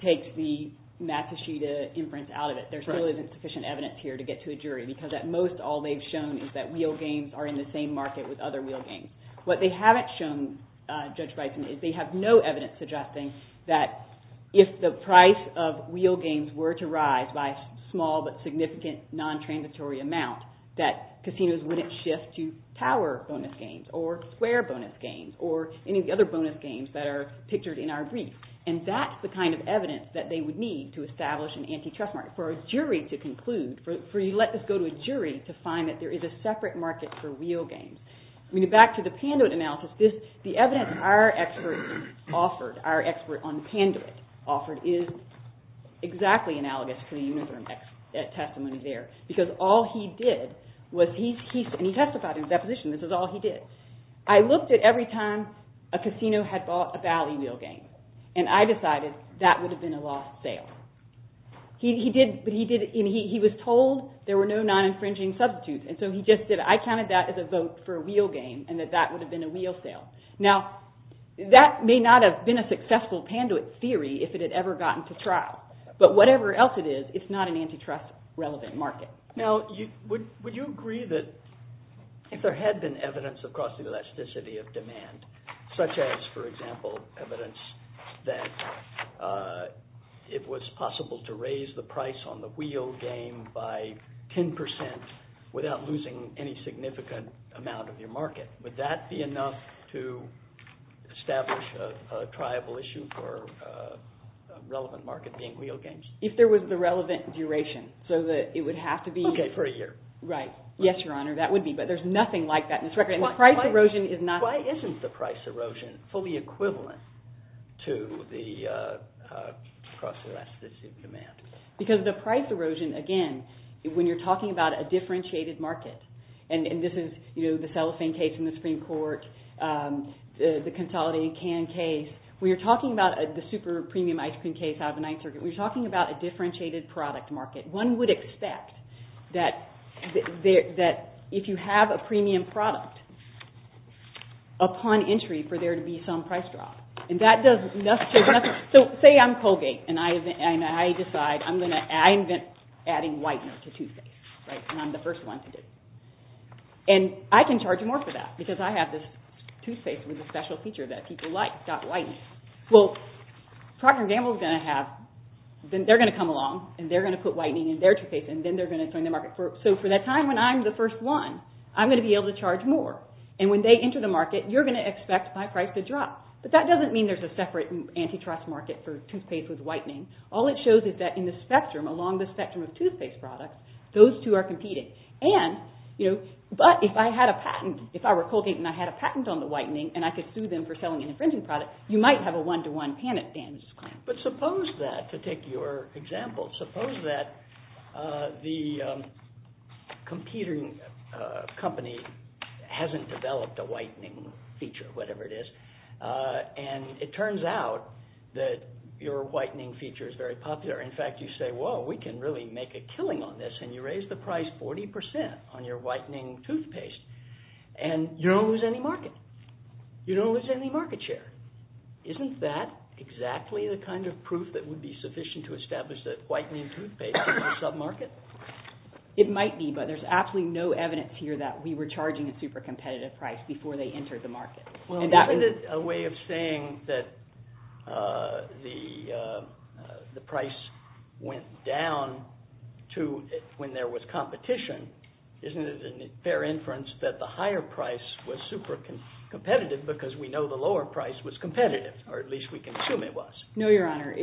takes the Matushita inference out of it, there still isn't sufficient evidence here to get to a jury because at most all they've shown is that wheel games are in the same market with other wheel games. What they haven't shown, Judge Bison, is they have no evidence suggesting that if the price of wheel games were to rise by a small but significant non-transitory amount, that casinos wouldn't shift to tower bonus games or square bonus games or any of the other bonus games that are pictured in our brief. And that's the kind of evidence that they would need to establish an antitrust market for a jury to conclude, for you to let this go to a jury to find that there is a separate market for wheel games. Back to the Panduit analysis, the evidence our expert offered, our expert on Panduit, offered is exactly analogous to the Uniform Testimony there because all he did was, and he testified in his deposition, this is all he did, I looked at every time a casino had bought a Valley wheel game and I decided that would have been a lost sale. He was told there were no non-infringing substitutes and so he just did it. I counted that as a vote for a wheel game and that that may not have been a successful Panduit theory if it had ever gotten to trial but whatever else it is, it's not an antitrust relevant market. Now, would you agree that if there had been evidence across the elasticity of demand, such as, for example, evidence that it was possible to raise the price on the wheel game by 10% without losing any significant amount of your market, would that be enough to establish a triable issue for a relevant market being wheel games? If there was the relevant duration, so that it would have to be... Okay, for a year. Right. Yes, Your Honor, that would be, but there's nothing like that in this record and the price erosion is not... Why isn't the price erosion fully equivalent to the cross-elasticity of demand? Because the price erosion, again, when you're talking about a differentiated market, and this is, you know, the cellophane case in the Supreme Court, the consolidating can case, when you're talking about the super premium ice cream case out of the Ninth Circuit, we're talking about a differentiated product market. One would expect that if you have a premium product, upon entry, for there to be some price drop. And that does nothing. So say I'm Colgate and I decide I'm going to, I invent adding whitening to toothpaste. Right? And I'm the first one to do it. And I can charge more for that because I have this toothpaste with a special feature that people like, stop whitening. Well, Procter & Gamble is going to have, they're going to come along and they're going to put whitening in their toothpaste and then they're going to join the market. So for that time when I'm the first one, I'm going to be able to charge more. And when they enter the market, you're going to expect my price to drop. But that doesn't mean there's a separate antitrust market for toothpaste with whitening. All it shows is that in the spectrum, along the spectrum of toothpaste products, those two are competing. And, you know, but if I had a patent, if I were Colgate and I had a patent on the whitening and I could sue them for selling an infringing product, you might have a one-to-one panic damage claim. But suppose that, to take your example, suppose that the computing company hasn't developed a whitening feature, whatever it is, and it turns out that your whitening feature is very popular. In fact, you say, whoa, we can really make a killing on this, and you raise the price 40 percent on your whitening toothpaste, and you don't lose any market. You don't lose any market share. Isn't that exactly the kind of proof that would be sufficient to say that the price went down to when there was competition? Isn't it a fair inference that the higher price was super competitive because we know the lower price was competitive, or at least we can assume it was? No, Your Honor,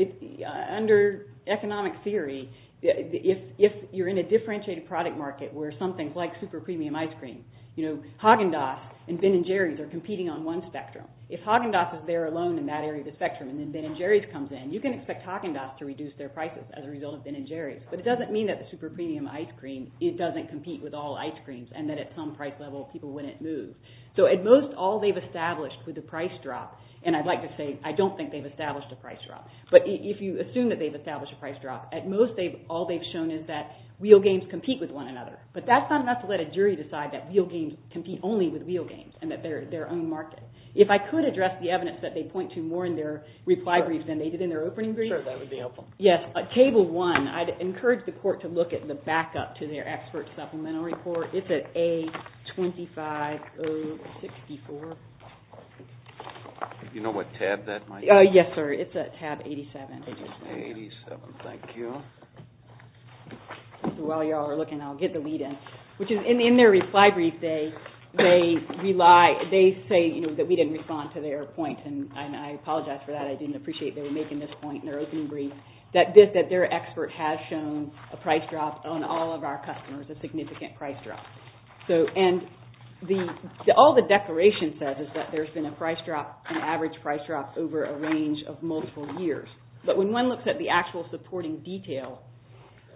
under economic theory, if you're in a differentiated product market where something is like super premium ice cream, you know, Haagen-Dazs and Ben and Jerry's are competing on one spectrum. If Haagen-Dazs is there alone in that area of the spectrum and then Ben and Jerry's comes in, you can expect Haagen-Dazs to reduce their prices as a result of Ben and Jerry's. But it doesn't mean that the super premium ice cream doesn't So we have to let a jury decide that real games compete only with real games and that they're their own market. If I could address the evidence that they point to more in their reply brief than they did in their opening brief, yes, Table 1, I'd encourage the court to look at the backup to their expert supplemental report. It's at A25064. You know what tab that might be? Yes, sir, it's at tab 87. 87, thank you. While you all are looking, I'll get the lead in. In their reply brief, they say we didn't respond to their point and I think that's a significant price drop. All the declaration says is there's been an average price drop over a range of multiple years. But when one looks at the actual supporting detail,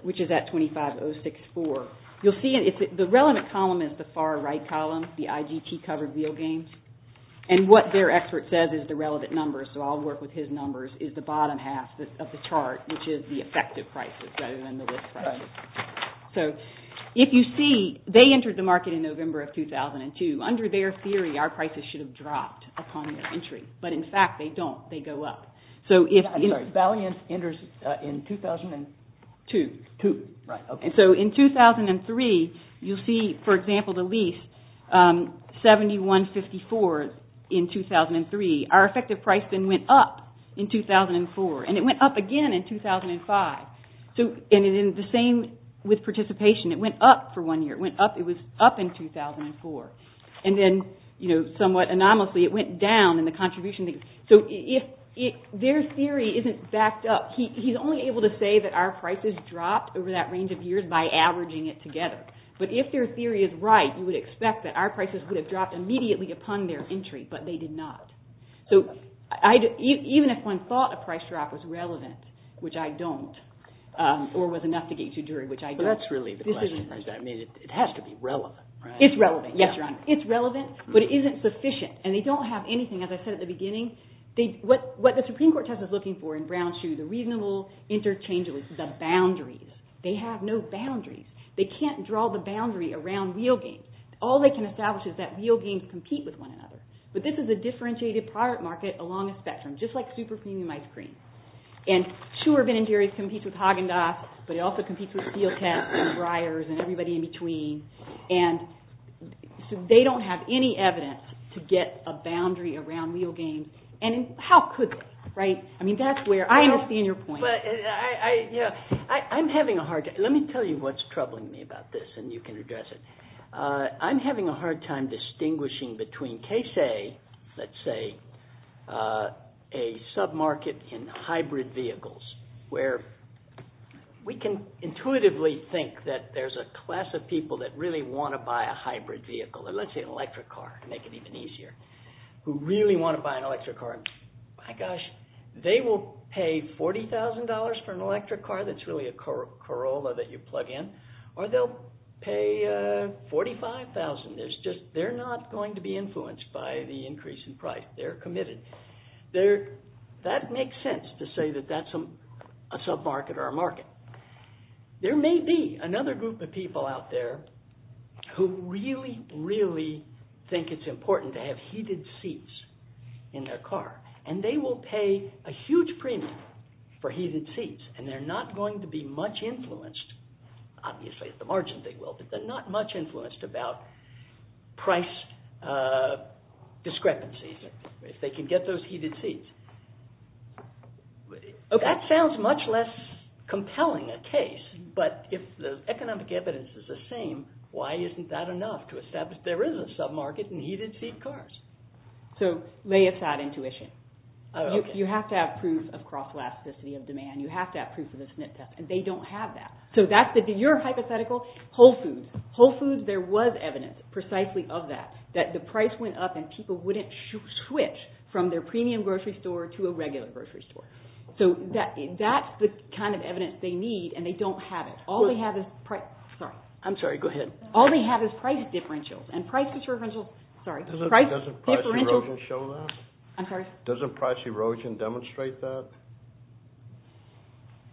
which is at A25064, you'll see the relevant column is at the far right column, the IGT covered field games. And what their expert says is the relevant numbers, so I'll work with his numbers, is the bottom half of the chart, which is the effective prices. So if you see, they entered the market in November of 2002. Under their theory, in 2003, you'll see, for example, the lease, 7154 in 2003. Our effective price then went up in 2004. And it went up again in 2005. And the same with participation, it went up for one year. It was up in 2004. And then somewhat anomalously, it went down in the contribution. So if their theory isn't backed up, he's only able to say that our prices dropped over that range of years by averaging it together. But if their theory is right, you would expect that our prices would have dropped immediately upon their entry, but they did not. So even if one theory is relevant, but it isn't sufficient, and they don't have anything, as I said at the beginning, what the Supreme Court test is looking for is the boundaries. They have no boundaries. They can't draw the boundaries around real games. All they can establish is that real games compete with one another, but this is a differentiated market along a spectrum, just like super premium ice cream. And sure, Ben & Jerry's competes with Haagen-Dazs, but it also competes with Steelcat and Breyers and everybody in between, and they don't have any evidence to get a boundary around real games, and how could they, right? I mean, there's a case A, let's say, a sub-market in hybrid vehicles, where we can intuitively think that there's a class of people that really want to buy a hybrid vehicle, let's say an electric car, to make it even easier, who really want to buy an electric car. My gosh, they will pay $40,000 for an electric car. not going to be influenced by the increase in price. They're committed. That makes sense to say that that's a sub-market or a market. There may be another group of people out there who really, really think it's important to have heated seats in their car, and they will pay a huge premium for heated seats, and they're not going to be much influenced about price discrepancies if they can get those heated seats. That sounds much less compelling a case, but if the economic evidence is the same, why isn't that enough to establish there is a sub-market in heated seat cars? So lay aside intuition. You have to have proof of cross-elasticity of demand. You have to have proof of the SNP test, and they don't have that. So that's your hypothetical. Whole Foods, there was evidence precisely of that, that the price went up and people wouldn't switch from their premium grocery store to a regular grocery store. So that's the kind of evidence they need, and they don't have that. Doesn't price erosion demonstrate that?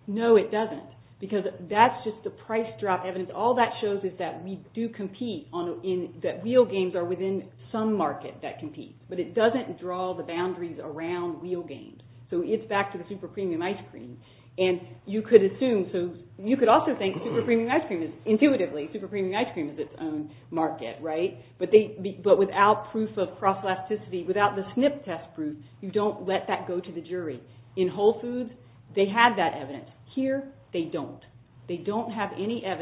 No, it doesn't, because that's just the price drop evidence. All that shows is that we do compete, that wheel games are within some market that compete, but it doesn't draw the boundaries around wheel games. So it's back to the super premium ice cream. And you could assume, so you could also think super premium ice cream is, intuitively, super premium ice cream is its own market, right? But without proof of cross-elasticity, without the SNP test proof, you don't let that go to the jury. In Whole Foods, they have that evidence. Here, they don't. They don't have any proof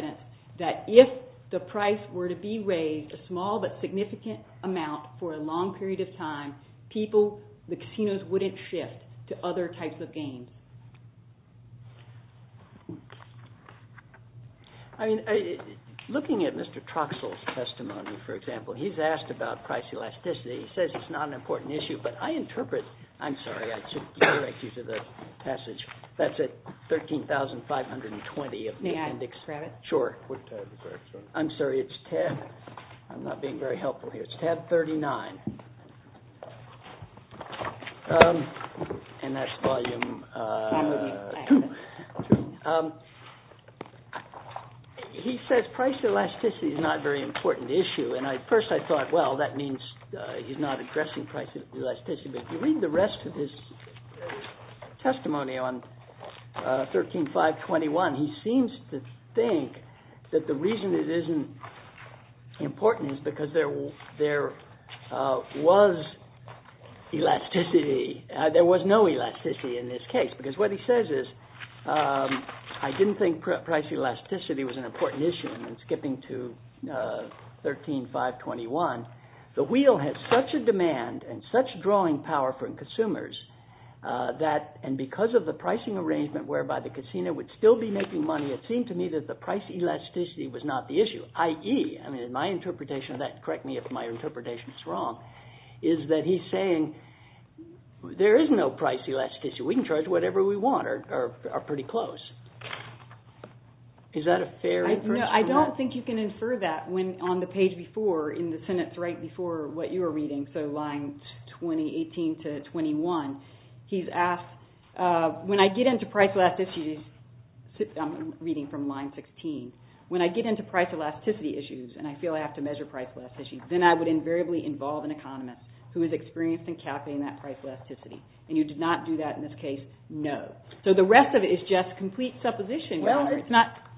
of gain. Looking at Mr. Troxell's testimony, for example, he's asked about price elasticity. He says it's not an important issue, but I interpret, I'm sorry, I should redirect you to the passage, that's at 13,520. May I extract it? Sure. I'm sorry, it's tab, I'm not being very helpful here, it's volume 2. He says price elasticity is not a very important issue, and at first I thought, well, that means he's not addressing price elasticity, but if you read the rest of his testimony on 13,521, he seems to think that the reason it isn't important is because there was elasticity, there was no price elasticity in this case, because what he says is, I didn't think price elasticity was an important issue, and skipping to 13,521, the wheel had such a demand and such drawing power from consumers that, and because of the pricing arrangement whereby the casino would still be making money, it seemed to me that the price elasticity issue we can charge whatever we want are pretty close. Is that a fair inference? No, I don't think you can infer that when on the page before, in the sentence right before what you were reading, so line 18 to 21, he's asked, when I get into price elasticity issues, I'm reading from line 16, when I get into price elasticity issues and I feel I have to measure price elasticity, then I would invariably involve an economist who is experienced in calculating that price elasticity. And you did not do that in this case? No. So the rest of it is just complete supposition. Well,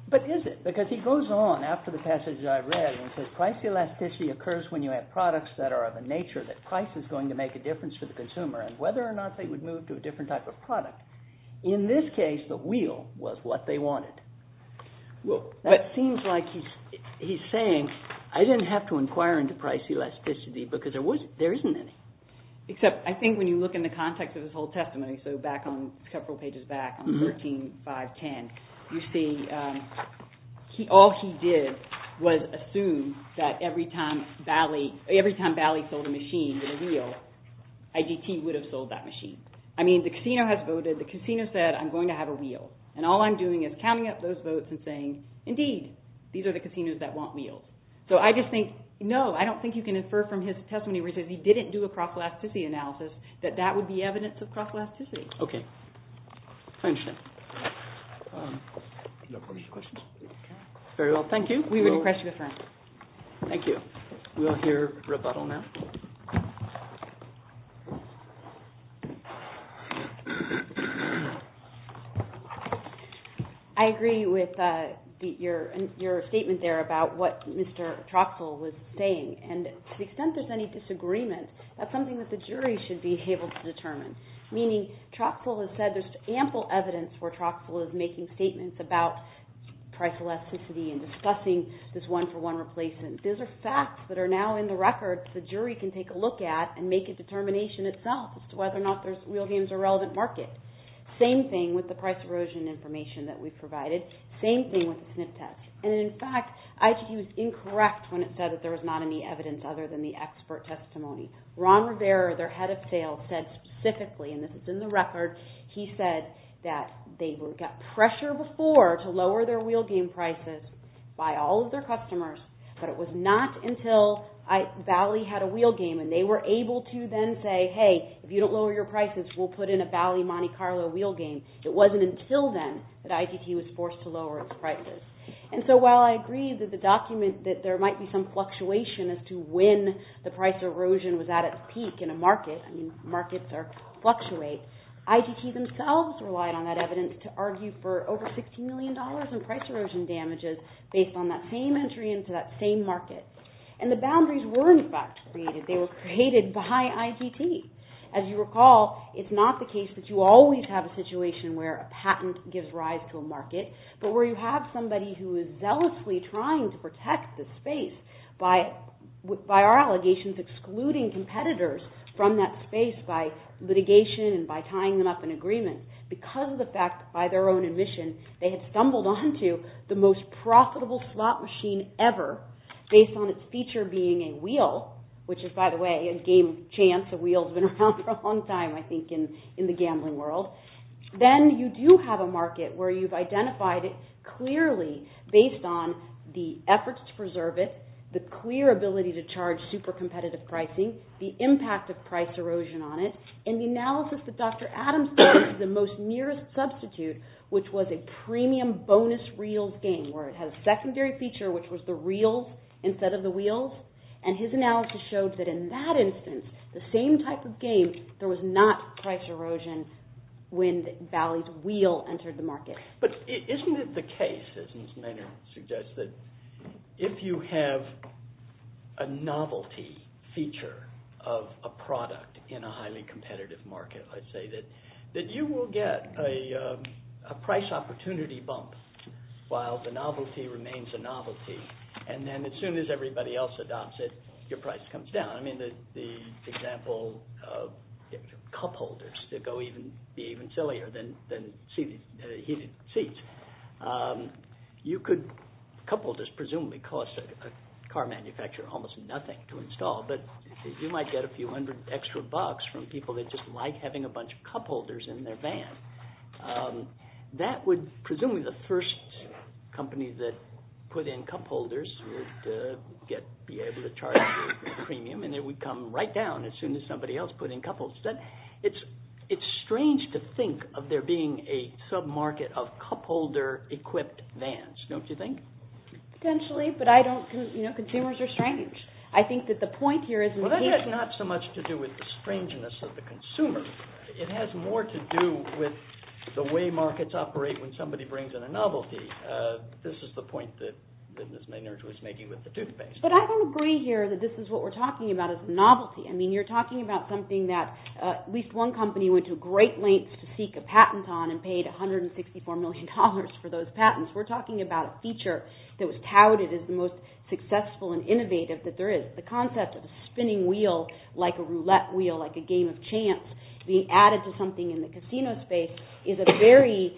but is it? Because he goes on after the passage I read and says price elasticity occurs when you have products that are of a nature that price is going to make a difference for the consumer and whether or not they would move to a different type of product. In this case, the wheel was what they wanted. Well, that seems like he's saying I didn't have to inquire into price elasticity because there isn't any. Except, I think when you look in the context of his whole testimony, so back on, several pages back on 13-5-10, you see, all he did was assume that every time Bali sold a machine with a wheel, IGT would have sold that machine. I mean, the casino has voted. The casino said, I'm going to have a wheel. And all I'm doing is counting up those votes and saying, indeed, these are the casinos that want wheels. So I just think, no, I don't think you can infer from his testimony because he didn't do a price elasticity analysis that that would be evidence of price elasticity. Okay. I understand. Do you have any questions? Okay. Very well. Thank you. We would request your deference. Thank you. We will hear rebuttal now. I agree with your statement there about what Mr. Troxell was saying. And to the extent there's any disagreement, that's something that the jury should be able to determine. Meaning, Troxell is said there's ample evidence where Troxell is making statements about price elasticity and discussing this one-for-one replacement. Those are facts that are now in the records. The jury can take a look at and make a determination itself as to whether or not there's real games or relevant market. Same thing with the price erosion information that we provided. Same thing with the SNF test. In fact, ITT was incorrect when it said there was not any evidence other than the expert testimony. Ron Rivera, their head of sales, said specifically, and this is in the record, he said that they got pressure before to lower their wheel game prices by all of their customers, but it was not until Valley had a wheel game and they were able to then say, hey, if you don't lower your prices, we'll put in a Valley Monte Carlo wheel game. It wasn't until then that ITT was forced to lower its prices. So while I agree that the document that there might be some fluctuation as to when the price erosion was at its peak in a market, markets fluctuate, ITT themselves relied on that evidence to argue for over $60 million in price erosion damages based on that same market. And the boundaries were in fact created. They were created by ITT. As you recall, it's not the case that you always have a situation where a patent gives rise to a market, but where you have somebody who is zealously trying to protect the space by our allegations excluding competitors from that space by litigation and by tying them up in agreement because of the fact that market is the most profitable slot machine ever based on its feature being a wheel, which is by the way a game of chance. A wheel's been around for a long time I think in the gambling world. Then you do have a market where you've identified it clearly based on the efforts to preserve it, the clear ability to charge super competitive pricing, the impact of price erosion on it, and the analysis that Dr. Adams did of the most nearest substitute which was a premium bonus reels game where it had a secondary feature which was the reels instead of the wheels, and his analysis showed that in that instance the same type of game there was not price erosion when Valley's wheel entered the market. But isn't it the case, as Ms. Maynard suggests, that if you have a share of a product in a highly competitive market I'd say that you will get a price opportunity bump while the novelty remains a novelty and then as soon as everybody else adopts it your price comes down. I mean the example of cupholders that go even sillier than heated seats, you could cupholders presumably cost a car manufacturer almost nothing to install, but the price increases and you might get a few hundred extra bucks from people that just like having a bunch of cupholders in their van. Presumably the first company that put in cupholders would be able to charge a premium and it would come right down as soon as somebody else put in cupholders. It's strange to think of there being a sub-market of cupholder equipped vans, don't you think? Potentially, but consumers are strange. I think that the point here is Well, that has not so much to do with the strangeness of the consumer. It has more to do with the way markets operate when somebody brings in a novelty. This is the point that Ms. Maynard was making with the toothpaste. But I don't agree here that this is what we're talking about as novelty. I mean you're talking about something that at least one company went to great lengths to seek a patent on and paid $164 million for those patents. We're talking about a feature that was touted as the most successful and innovative that there is. The concept of a spinning wheel like a roulette wheel, like a game of chance being added to something in the casino space is a very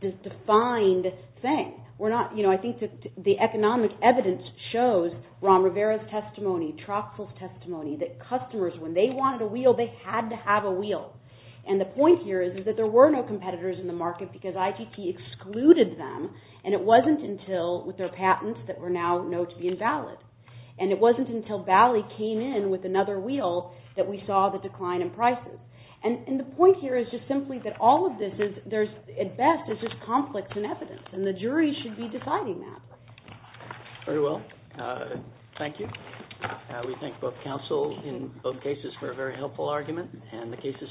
defined thing. I think the economic evidence shows Ron Rivera's testimony, Troxel's testimony, that customers when they wanted a wheel they had to have a wheel. And the point here is that there were no competitors in the market because ITT excluded them and it wasn't until with their patents that were now known to be invalid. And it wasn't until Bali came in with another wheel that we saw the decline in prices. And the reason for that is that we think both counsel in both cases were a very helpful argument and the case is submitted.